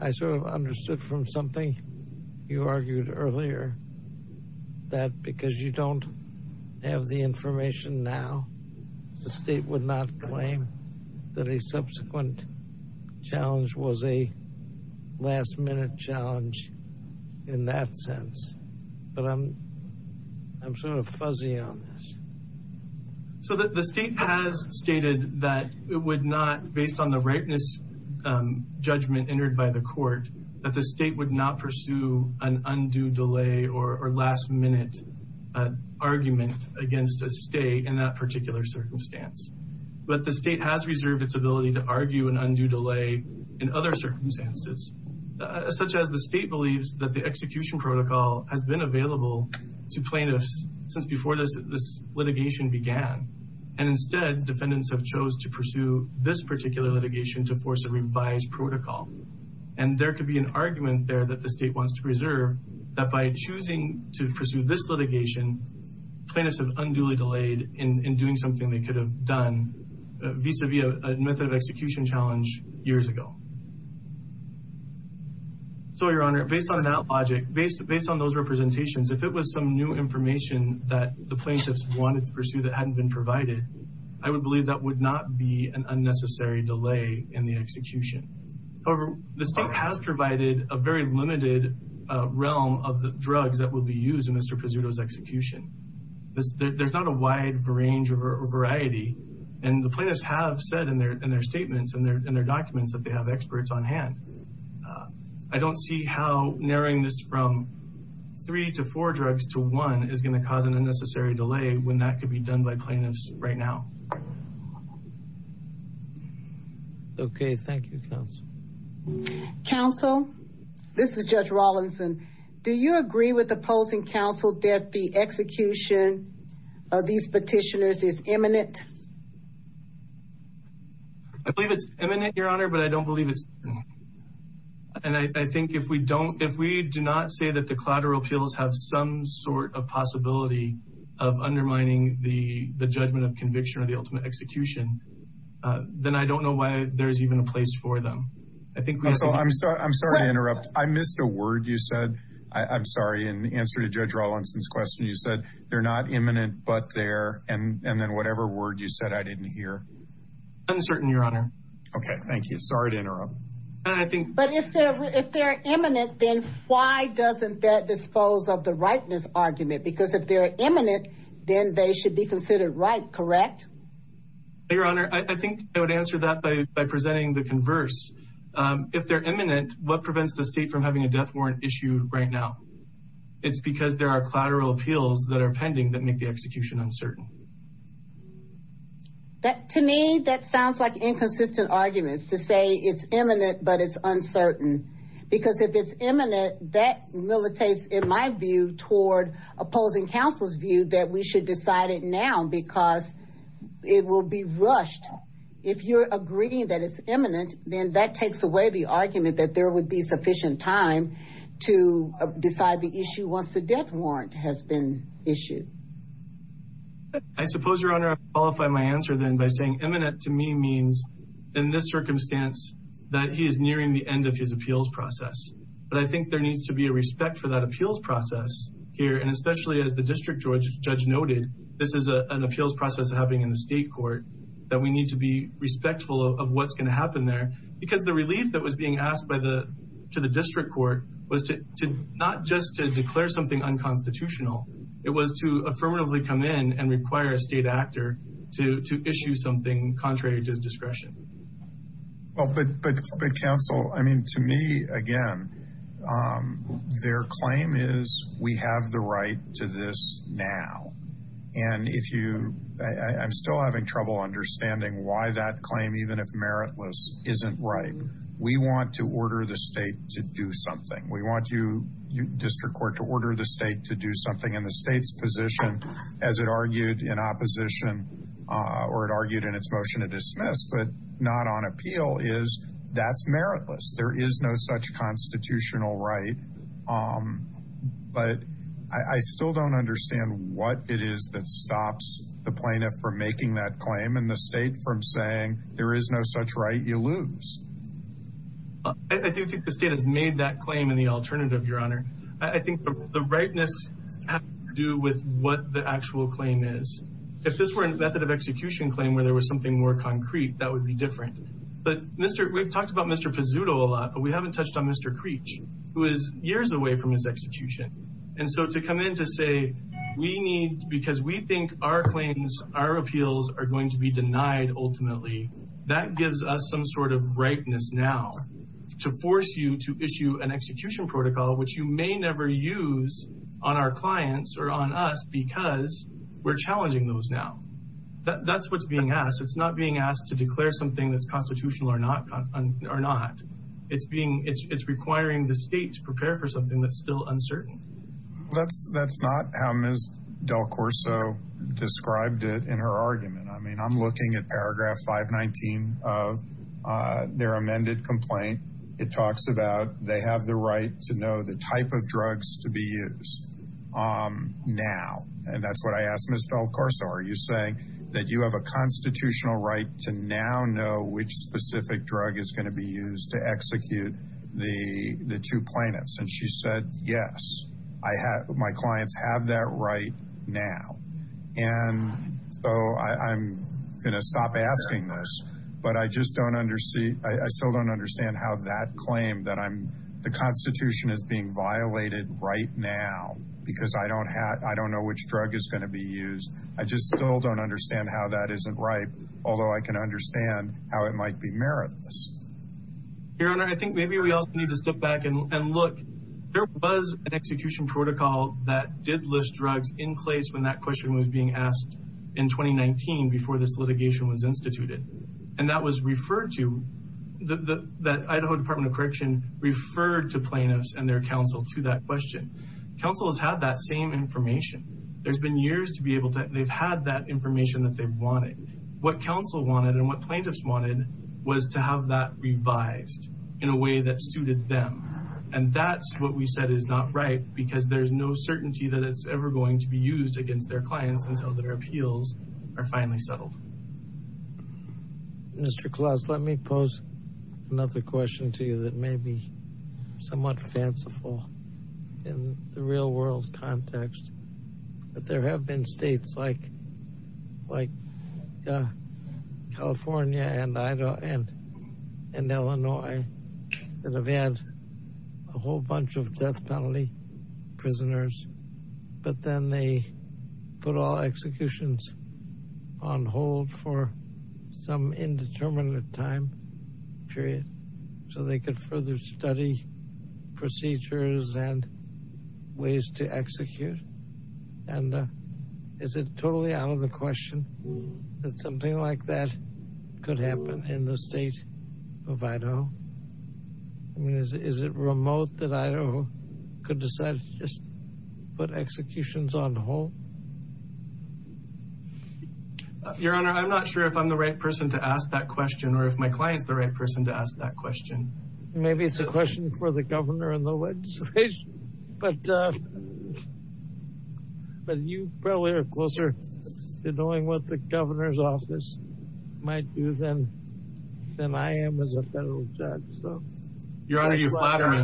I sort of understood from something you argued earlier that because you don't have the information now, the state would not claim that a subsequent challenge was a last minute challenge in that sense. But I'm sort of fuzzy on this. So the state has stated that it would not, based on the rightness judgment entered by the court, that the state would not pursue an undue delay or last minute argument against a state in that particular circumstance. But the state has reserved its ability to argue an undue delay in other circumstances, such as the state believes that the execution protocol has been available to plaintiffs since before this litigation began. And instead, defendants have chose to pursue this particular litigation to force a revised protocol. And there could be an argument there that the state wants to preserve that by choosing to pursue this litigation, plaintiffs have unduly delayed in doing something they could have done vis-a-vis a method of execution challenge years ago. So, Your Honor, based on that logic, based on those representations, if it was some new information that the plaintiffs wanted to pursue that hadn't been provided, I would believe that would not be an unnecessary delay in the execution. However, the state has provided a very limited realm of the drugs that would be used in Mr. Pizzuto's execution. There's not a wide range or variety, and the plaintiffs have said in their statements and their documents that they have experts on hand. I don't see how narrowing this from three to four drugs to one is going to cause an unnecessary delay when that could be done by plaintiffs right now. Counsel, this is Judge Rawlinson. Do you agree with opposing counsel that the execution of these petitioners is imminent? I believe it's imminent, Your Honor, but I don't believe it's imminent. And I think if we do not say that the collateral appeals have some sort of possibility of undermining the judgment of conviction or the ultimate execution, then I don't know why there's even a place for them. Counsel, I'm sorry to interrupt. I missed a word you said. I'm sorry. In the answer to Judge Rawlinson's question, you said they're not imminent but they're, and then whatever word you said I didn't hear. Uncertain, Your Honor. Okay, thank you. Sorry to interrupt. But if they're imminent, then why doesn't that dispose of the rightness argument? Because if they're imminent, then they should be considered right, correct? Your Honor, I think I would answer that by presenting the converse. If they're imminent, what prevents the state from having a death warrant issue right now? It's because there are collateral appeals that are pending that make the execution uncertain. To me, that sounds like inconsistent arguments to say it's imminent but it's uncertain. Because if it's imminent, that militates, in my view, toward opposing counsel's view that we should decide it now because it will be rushed. If you're agreeing that it's imminent, then that takes away the argument that there would be sufficient time to decide the issue once the death warrant has been issued. I suppose, Your Honor, I would qualify my answer then by saying imminent to me means, in this circumstance, that he is nearing the end of his appeals process. But I think there needs to be a respect for that appeals process here, and especially as the district judge noted, this is an appeals process happening in the state court, that we need to be respectful of what's going to happen there. Because the relief that was being asked to the district court was not just to declare something unconstitutional, it was to affirmatively come in and require a state actor to issue something contrary to discretion. But counsel, to me, again, their claim is we have the right to this now. And I'm still having trouble understanding why that claim, even if meritless, isn't right. We want to order the state to do something. We want the district court to order the state to do something in the state's position, as it argued in opposition, or it argued in its motion to dismiss, but not on appeal, is that's meritless. There is no such constitutional right. But I still don't understand what it is that stops the plaintiff from making that claim and the state from saying there is no such right, you lose. I do think the state has made that claim in the alternative, Your Honor. I think the rightness has to do with what the actual claim is. If this were a method of execution claim where there was something more concrete, that would be different. But we've talked about Mr. Pizzuto a lot, but we haven't touched on Mr. Preach, who is years away from his execution. And so to come in to say we need, because we think our claims, our appeals are going to be denied ultimately, that gives us some sort of rightness now to force you to issue an execution protocol, which you may never use on our clients or on us because we're challenging those now. That's what's being asked. It's not being asked to declare something that's constitutional or not. It's requiring the state to prepare for something that's still uncertain. That's not how Ms. Del Corso described it in her argument. I mean, I'm looking at paragraph 519 of their amended complaint. It talks about they have the right to know the type of drugs to be used now. And that's what I asked Ms. Del Corso. Are you saying that you have a constitutional right to now know which specific drug is going to be used to execute the two plaintiffs? And she said, yes, my clients have that right now. And so I'm going to stop asking this, but I still don't understand how that claim that the Constitution is being violated right now because I don't know which drug is going to be used. I just still don't understand how that isn't right, although I can understand how it might be meritless. Your Honor, I think maybe we all need to step back and look. There was an execution protocol that did list drugs in place when that question was being asked in 2019 before this litigation was instituted. And that was referred to – that Idaho Department of Correction referred to plaintiffs and their counsel to that question. Counsel has had that same information. There's been years to be able to – they've had that information that they've wanted. What counsel wanted and what plaintiffs wanted was to have that revised in a way that suited them. And that's what we said is not right because there's no certainty that it's ever going to be used against their clients until their appeals are finally settled. Mr. Klaus, let me pose another question to you that may be somewhat fanciful in the real world context. But there have been states like California and Illinois that have had a whole bunch of death penalty prisoners. But then they put all executions on hold for some indeterminate time period so they could further study procedures and ways to execute. And is it totally out of the question that something like that could happen in the state of Idaho? I mean, is it remote that Idaho could decide to just put executions on hold? Your Honor, I'm not sure if I'm the right person to ask that question or if my client is the right person to ask that question. Maybe it's a question for the governor and the legislature. But you probably are closer to knowing what the governor's office might do than I am as a federal judge. Your Honor, you flatter me.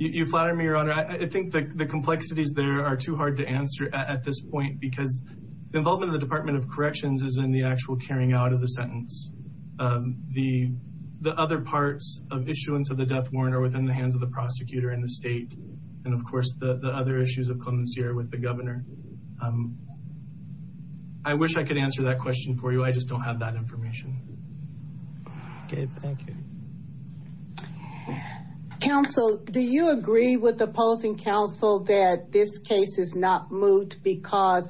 You flatter me, Your Honor. I think the complexities there are too hard to answer at this point because the involvement of the Department of Corrections is in the actual carrying out of the sentence. The other parts of issuance of the death warrant are within the hands of the prosecutor and the state. And, of course, the other issues of clemency are with the governor. I wish I could answer that question for you. I just don't have that information. Okay, thank you. Counsel, do you agree with opposing counsel that this case is not moot because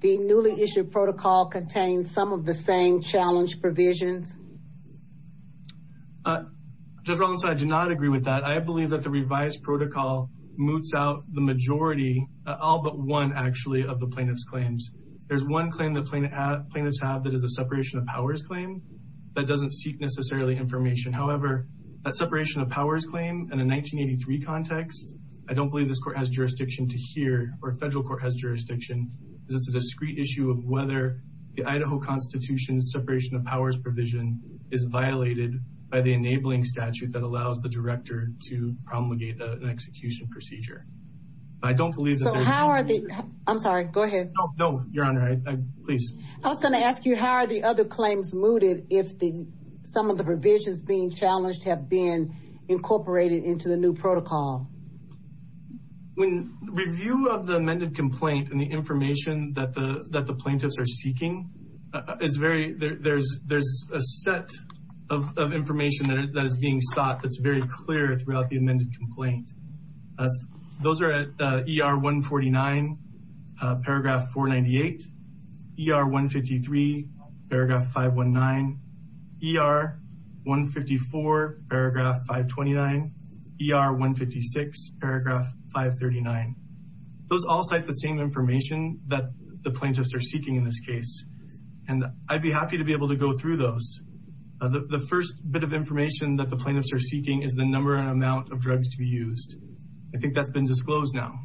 the newly issued protocol contains some of the same challenge provisions? Judge Rollins, I do not agree with that. I believe that the revised protocol moots out the majority, all but one, actually, of the plaintiff's claims. There's one claim the plaintiffs have that is a separation of powers claim that doesn't seek necessarily information. However, that separation of powers claim in a 1983 context, I don't believe this court has jurisdiction to hear or a federal court has jurisdiction. This is a discreet issue of whether the Idaho Constitution's separation of powers provision is violated by the enabling statute that allows the director to promulgate an execution procedure. I don't believe that… I'm sorry. Go ahead. No, Your Honor. Please. I was going to ask you, how are the other claims mooted if some of the provisions being challenged have been incorporated into the new protocol? In review of the amended complaint and the information that the plaintiffs are seeking, there's a set of information that is being sought that's very clear throughout the amended complaint. Those are at ER 149, paragraph 498, ER 153, paragraph 519, ER 154, paragraph 529, ER 156, paragraph 539. Those all cite the same information that the plaintiffs are seeking in this case, and I'd be happy to be able to go through those. The first bit of information that the plaintiffs are seeking is the number and amount of drugs to be used. I think that's been disclosed now.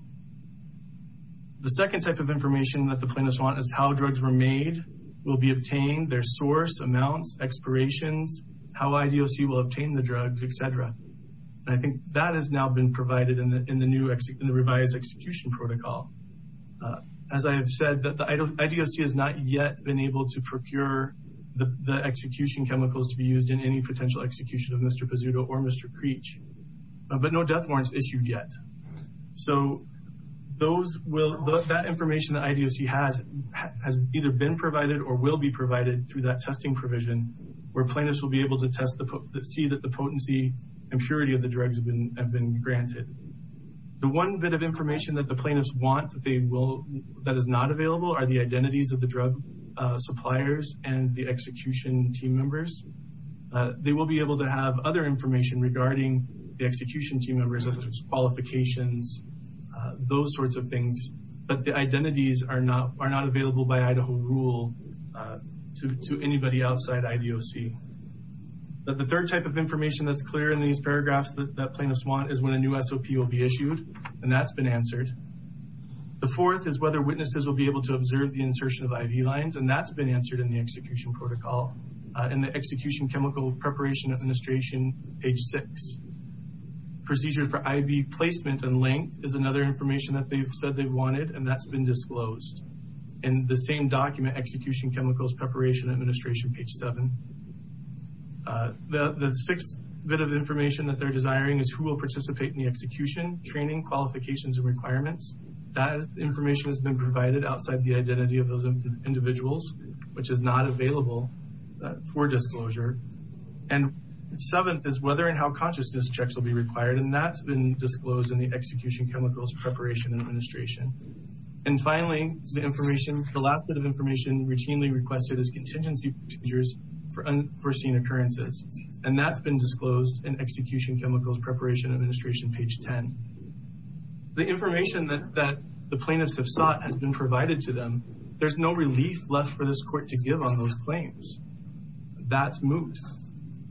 The second type of information that the plaintiffs want is how drugs were made, will be obtained, their source, amounts, expirations, how IDOC will obtain the drugs, etc. I think that has now been provided in the revised execution protocol. As I have said, the IDOC has not yet been able to procure the execution chemicals to be used in any potential execution of Mr. Pizzuto or Mr. Preach, but no death warrants issued yet. That information that IDOC has either been provided or will be provided through that testing provision, where plaintiffs will be able to see that the potency and purity of the drugs have been granted. The one bit of information that the plaintiffs want that is not available are the identities of the drug suppliers and the execution team members. They will be able to have other information regarding the execution team members' qualifications, those sorts of things, but the identities are not available by Idaho rule to anybody outside IDOC. The third type of information that's clear in these paragraphs that the plaintiffs want is when a new SOP will be issued, and that's been answered. The fourth is whether witnesses will be able to observe the insertion of ID lines, and that's been answered in the execution protocol in the Execution Chemical Preparation Administration, page 6. Procedure for ID placement and length is another information that they've said they wanted, and that's been disclosed in the same document, Execution Chemicals Preparation Administration, page 7. The sixth bit of information that they're desiring is who will participate in the execution, training, qualifications, and requirements. That information has been provided outside the identity of those individuals, which is not available for disclosure. And seventh is whether and how consciousness checks will be required, and that's been disclosed in the Execution Chemicals Preparation Administration. And finally, the information, the last bit of information routinely requested is contingency procedures for unforeseen occurrences, and that's been disclosed in Execution Chemicals Preparation Administration, page 10. The information that the plaintiffs have sought has been provided to them. There's no relief left for this court to give on those claims. That's moot.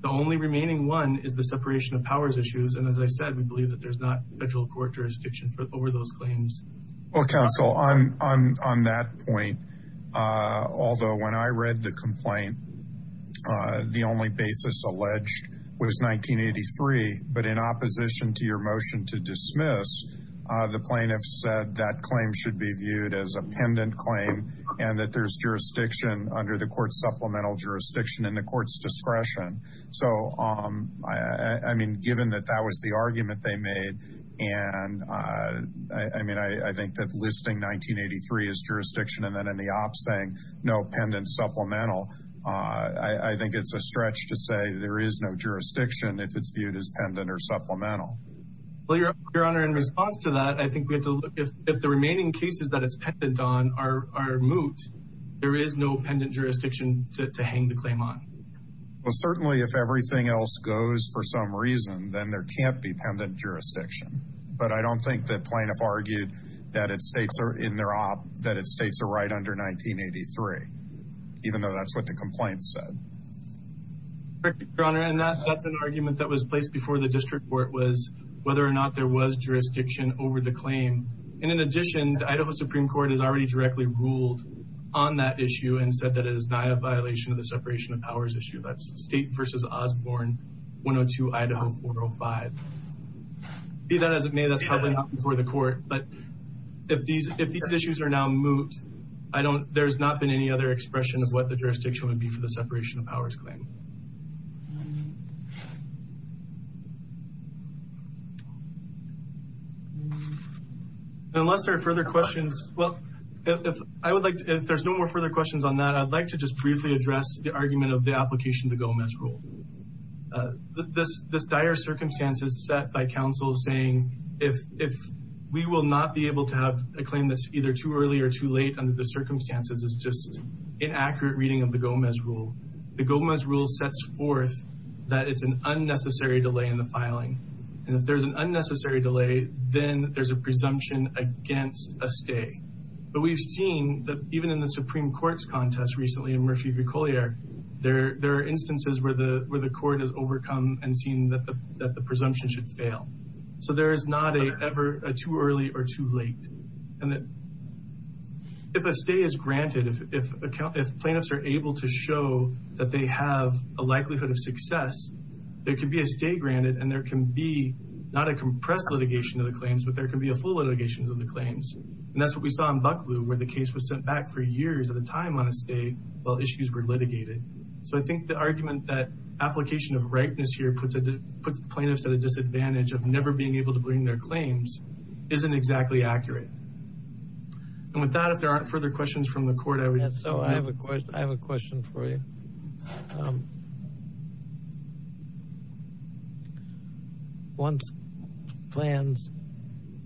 The only remaining one is the separation of powers issues, and as I said, we believe that there's not federal court jurisdiction over those claims. Well, counsel, on that point, although when I read the complaint, the only basis alleged was 1983, but in opposition to your motion to dismiss, the plaintiffs said that claim should be viewed as a pendant claim and that there's jurisdiction under the court's supplemental jurisdiction in the court's discretion. So, I mean, given that that was the argument they made, and I mean, I think that listing 1983 as jurisdiction and then in the op saying no pendant supplemental, I think it's a stretch to say there is no jurisdiction if it's viewed as pendant or supplemental. Well, your honor, in response to that, I think we have to look if the remaining cases that it's pendant on are moot, there is no pendant jurisdiction to hang the claim on. Well, certainly if everything else goes for some reason, then there can't be pendant jurisdiction. But I don't think that plaintiff argued that it states in their op that it states a right under 1983, even though that's what the complaint said. Your honor, and that's an argument that was placed before the district court was whether or not there was jurisdiction over the claim. And in addition, Idaho Supreme Court has already directly ruled on that issue and said that it is not a violation of the separation of powers issue. That's state versus Osborne 102, Idaho 405. See that as it may, that's probably not before the court, but if these issues are now moot, there's not been any other expression of what the jurisdiction would be for the separation of powers claim. Unless there are further questions, well, if there's no more further questions on that, I'd like to just briefly address the argument of the application to Gomez rule. This dire circumstances set by counsel saying if we will not be able to have a claim that's either too early or too late under the circumstances is just inaccurate reading of the Gomez rule. The Gomez rule sets forth that it's an unnecessary delay in the filing. And if there's an unnecessary delay, then there's a presumption against a stay. But we've seen that even in the Supreme Court's contest recently in Mersey, there are instances where the court has overcome and seen that the presumption should fail. So there is not a ever too early or too late. And if a stay is granted, if plaintiffs are able to show that they have a likelihood of success, there can be a stay granted and there can be not a compressed litigation of the claims, but there can be a full litigation of the claims. And that's what we saw in Buckley where the case was sent back for years at a time on a stay while issues were litigated. So I think the argument that application of rightness here puts plaintiffs at a disadvantage of never being able to bring their claims isn't exactly accurate. And with that, if there aren't further questions from the court, I would. I have a question for you. Once plans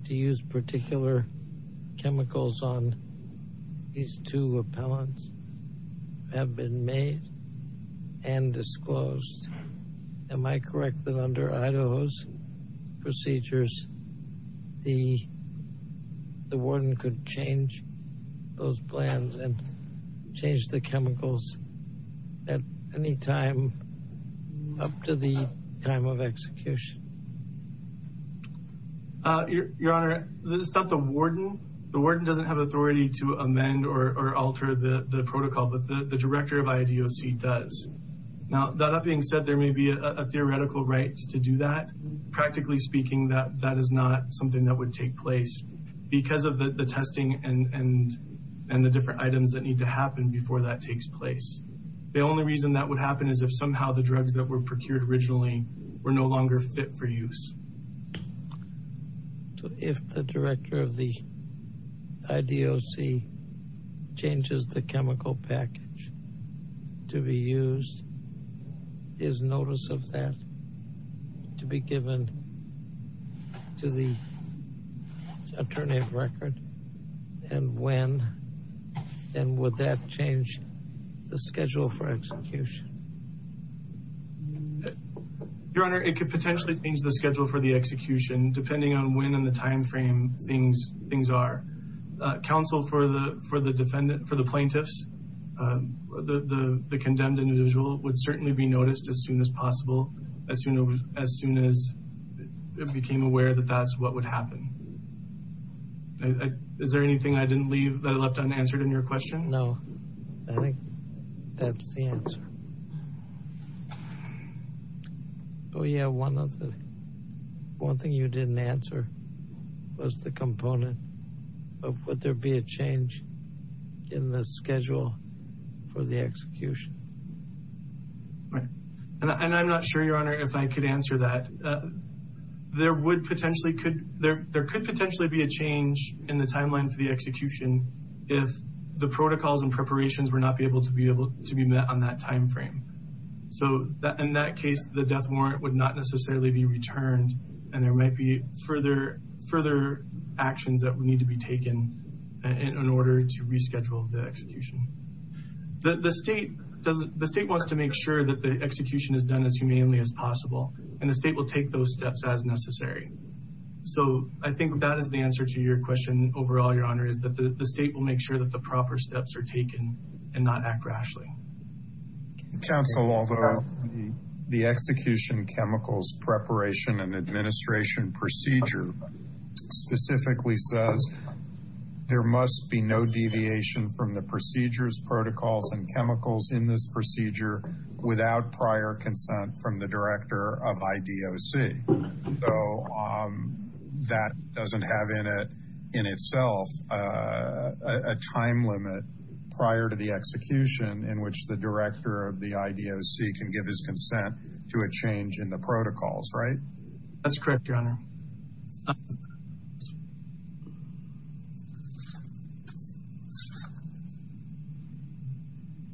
to use particular chemicals on these two appellants have been made and disclosed, am I correct that under Idaho's procedures, the warden could change those plans? Change the chemicals at any time up to the time of execution? Your Honor, this is not the warden. The warden doesn't have authority to amend or alter the protocol, but the director of IDOC does. Now, that being said, there may be a theoretical right to do that. The only reason that would happen is if somehow the drugs that were procured originally were no longer fit for use. If the director of the IDOC changes the chemical package to be used, is notice of that to be given to the attorney of record? And when? And would that change the schedule for execution? Your Honor, it could potentially change the schedule for the execution, depending on when in the time frame things are. Counsel for the plaintiffs, the condemned individual, would certainly be noticed as soon as possible, as soon as it became aware that that's what would happen. Is there anything I didn't leave that I left unanswered in your question? No, I think that's the answer. Oh yeah, one thing you didn't answer was the component of would there be a change in the schedule for the execution? And I'm not sure, Your Honor, if I could answer that. There could potentially be a change in the timeline for the execution if the protocols and preparations were not able to be met on that time frame. So in that case, the death warrant would not necessarily be returned, and there might be further actions that would need to be taken in order to reschedule the execution. The state wants to make sure that the execution is done as humanely as possible, and the state will take those steps as necessary. So I think that is the answer to your question overall, Your Honor, is that the state will make sure that the proper steps are taken and not act rashly. Counsel, although the execution chemicals preparation and administration procedure specifically says there must be no deviation from the procedures, protocols, and chemicals in this procedure without prior consent from the director of IDOC. So that doesn't have in itself a time limit prior to the execution in which the director of the IDOC can give his consent to a change in the protocols, right? That's correct, Your Honor.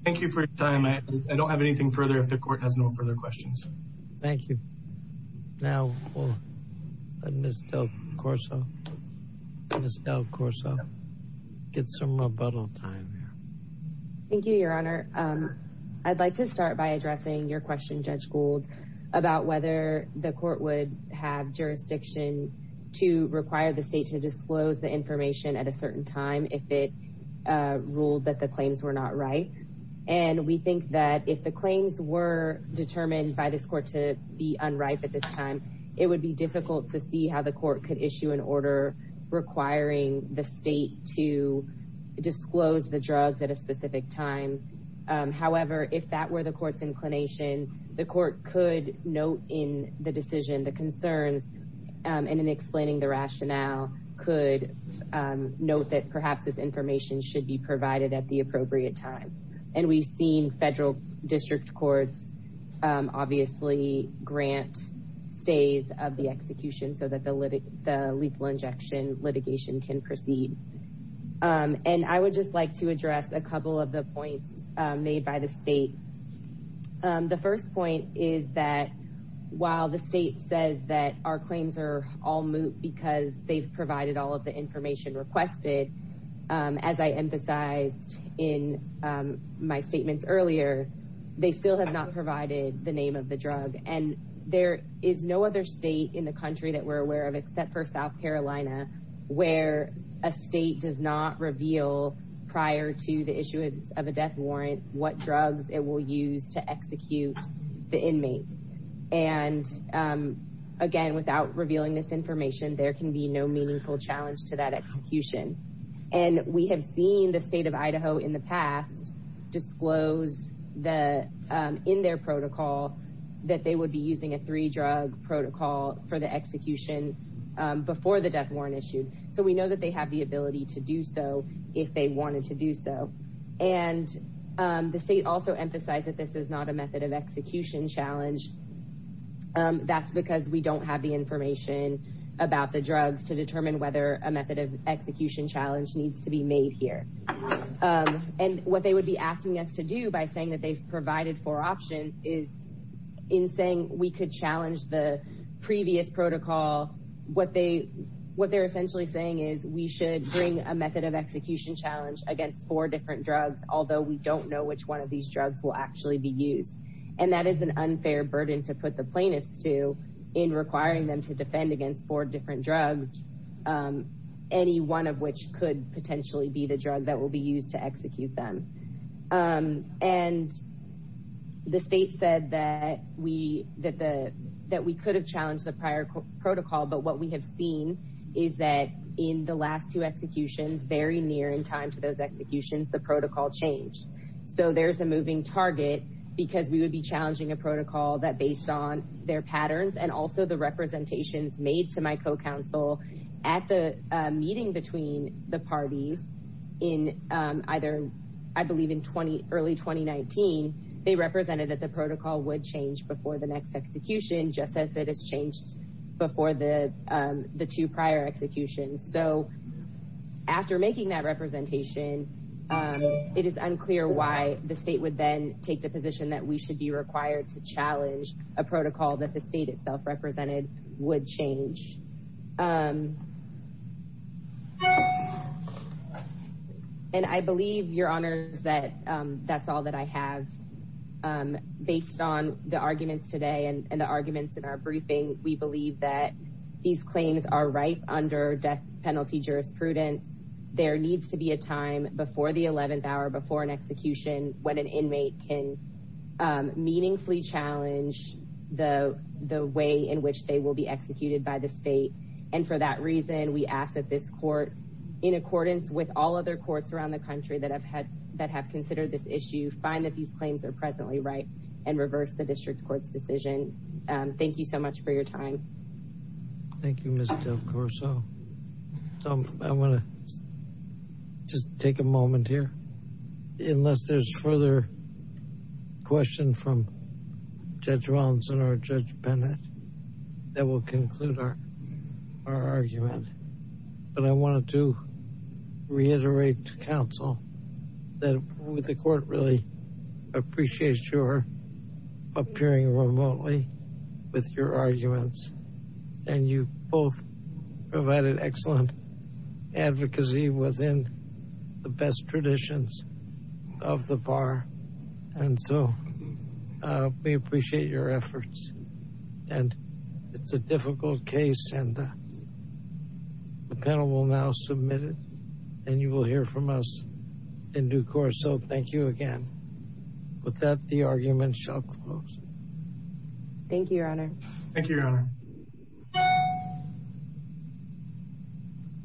Thank you for your time. I don't have anything further if the court has no further questions. Thank you. Now, Ms. Del Corso, get some rebuttal time here. Thank you, Your Honor. I'd like to start by addressing your question, Judge Gould, about whether the court would have jurisdiction to require the state to disclose the information at a certain time if it ruled that the claims were not right. And we think that if the claims were determined by this court to be unright at this time, it would be difficult to see how the court could issue an order requiring the state to disclose the drugs at a specific time. However, if that were the court's inclination, the court could note in the decision, the concern, and in explaining the rationale, could note that perhaps this information should be provided at the appropriate time. And we've seen federal district courts obviously grant days of the execution so that the lethal injection litigation can proceed. And I would just like to address a couple of the points made by the state. The first point is that while the state says that our claims are all moot because they've provided all of the information requested, as I emphasized in my statements earlier, they still have not provided the name of the drug. And there is no other state in the country that we're aware of except for South Carolina where a state does not reveal prior to the issuance of a death warrant what drugs it will use to execute the inmates. And again, without revealing this information, there can be no meaningful challenge to that execution. And we have seen the state of Idaho in the past disclose in their protocol that they would be using a three-drug protocol for the execution before the death warrant issued. So we know that they have the ability to do so if they wanted to do so. And the state also emphasized that this is not a method of execution challenge. That's because we don't have the information about the drugs to determine whether a method of execution challenge needs to be made here. And what they would be asking us to do by saying that they've provided four options is in saying we could challenge the previous protocol, what they're essentially saying is we should bring a method of execution challenge against four different drugs, although we don't know which one of these drugs will actually be used. And that is an unfair burden to put the plaintiffs to in requiring them to defend against four different drugs, any one of which could potentially be the drug that will be used to execute them. And the state said that we could have challenged the prior protocol, but what we have seen is that in the last two executions, very near in time to those executions, the protocol changed. So there's a moving target because we would be challenging a protocol that based on their patterns and also the representations made to my co-counsel at the meeting between the parties in either, I believe in early 2019, they represented that the protocol would change before the next execution, just as it has changed before the two prior executions. So after making that representation, it is unclear why the state would then take the position that we should be required to challenge a protocol that the state itself represented would change. And I believe your honor that that's all that I have based on the arguments today and the arguments in our briefing. We believe that these claims are right under death penalty jurisprudence. There needs to be a time before the 11th hour, before an execution, when an inmate can meaningfully challenge the way in which they will be executed by the state. And for that reason, we ask that this court in accordance with all other courts around the country that have had, that have considered this issue, find that these claims are presently right and reverse the district court's decision. Thank you so much for your time. Thank you, Mr. Corso. So I'm going to just take a moment here, unless there's further question from Judge Robinson or Judge Bennett that will conclude our argument. But I wanted to reiterate to counsel that the court really appreciates your appearing remotely with your arguments and you both provided excellent advocacy within the best traditions of the bar. And so we appreciate your efforts and it's a difficult case and the panel will now submit it and you will hear from us in due course. So thank you again. With that, the argument shall close. Thank you, your honor. Thank you, your honor.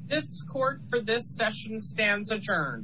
This court for this session stands adjourned.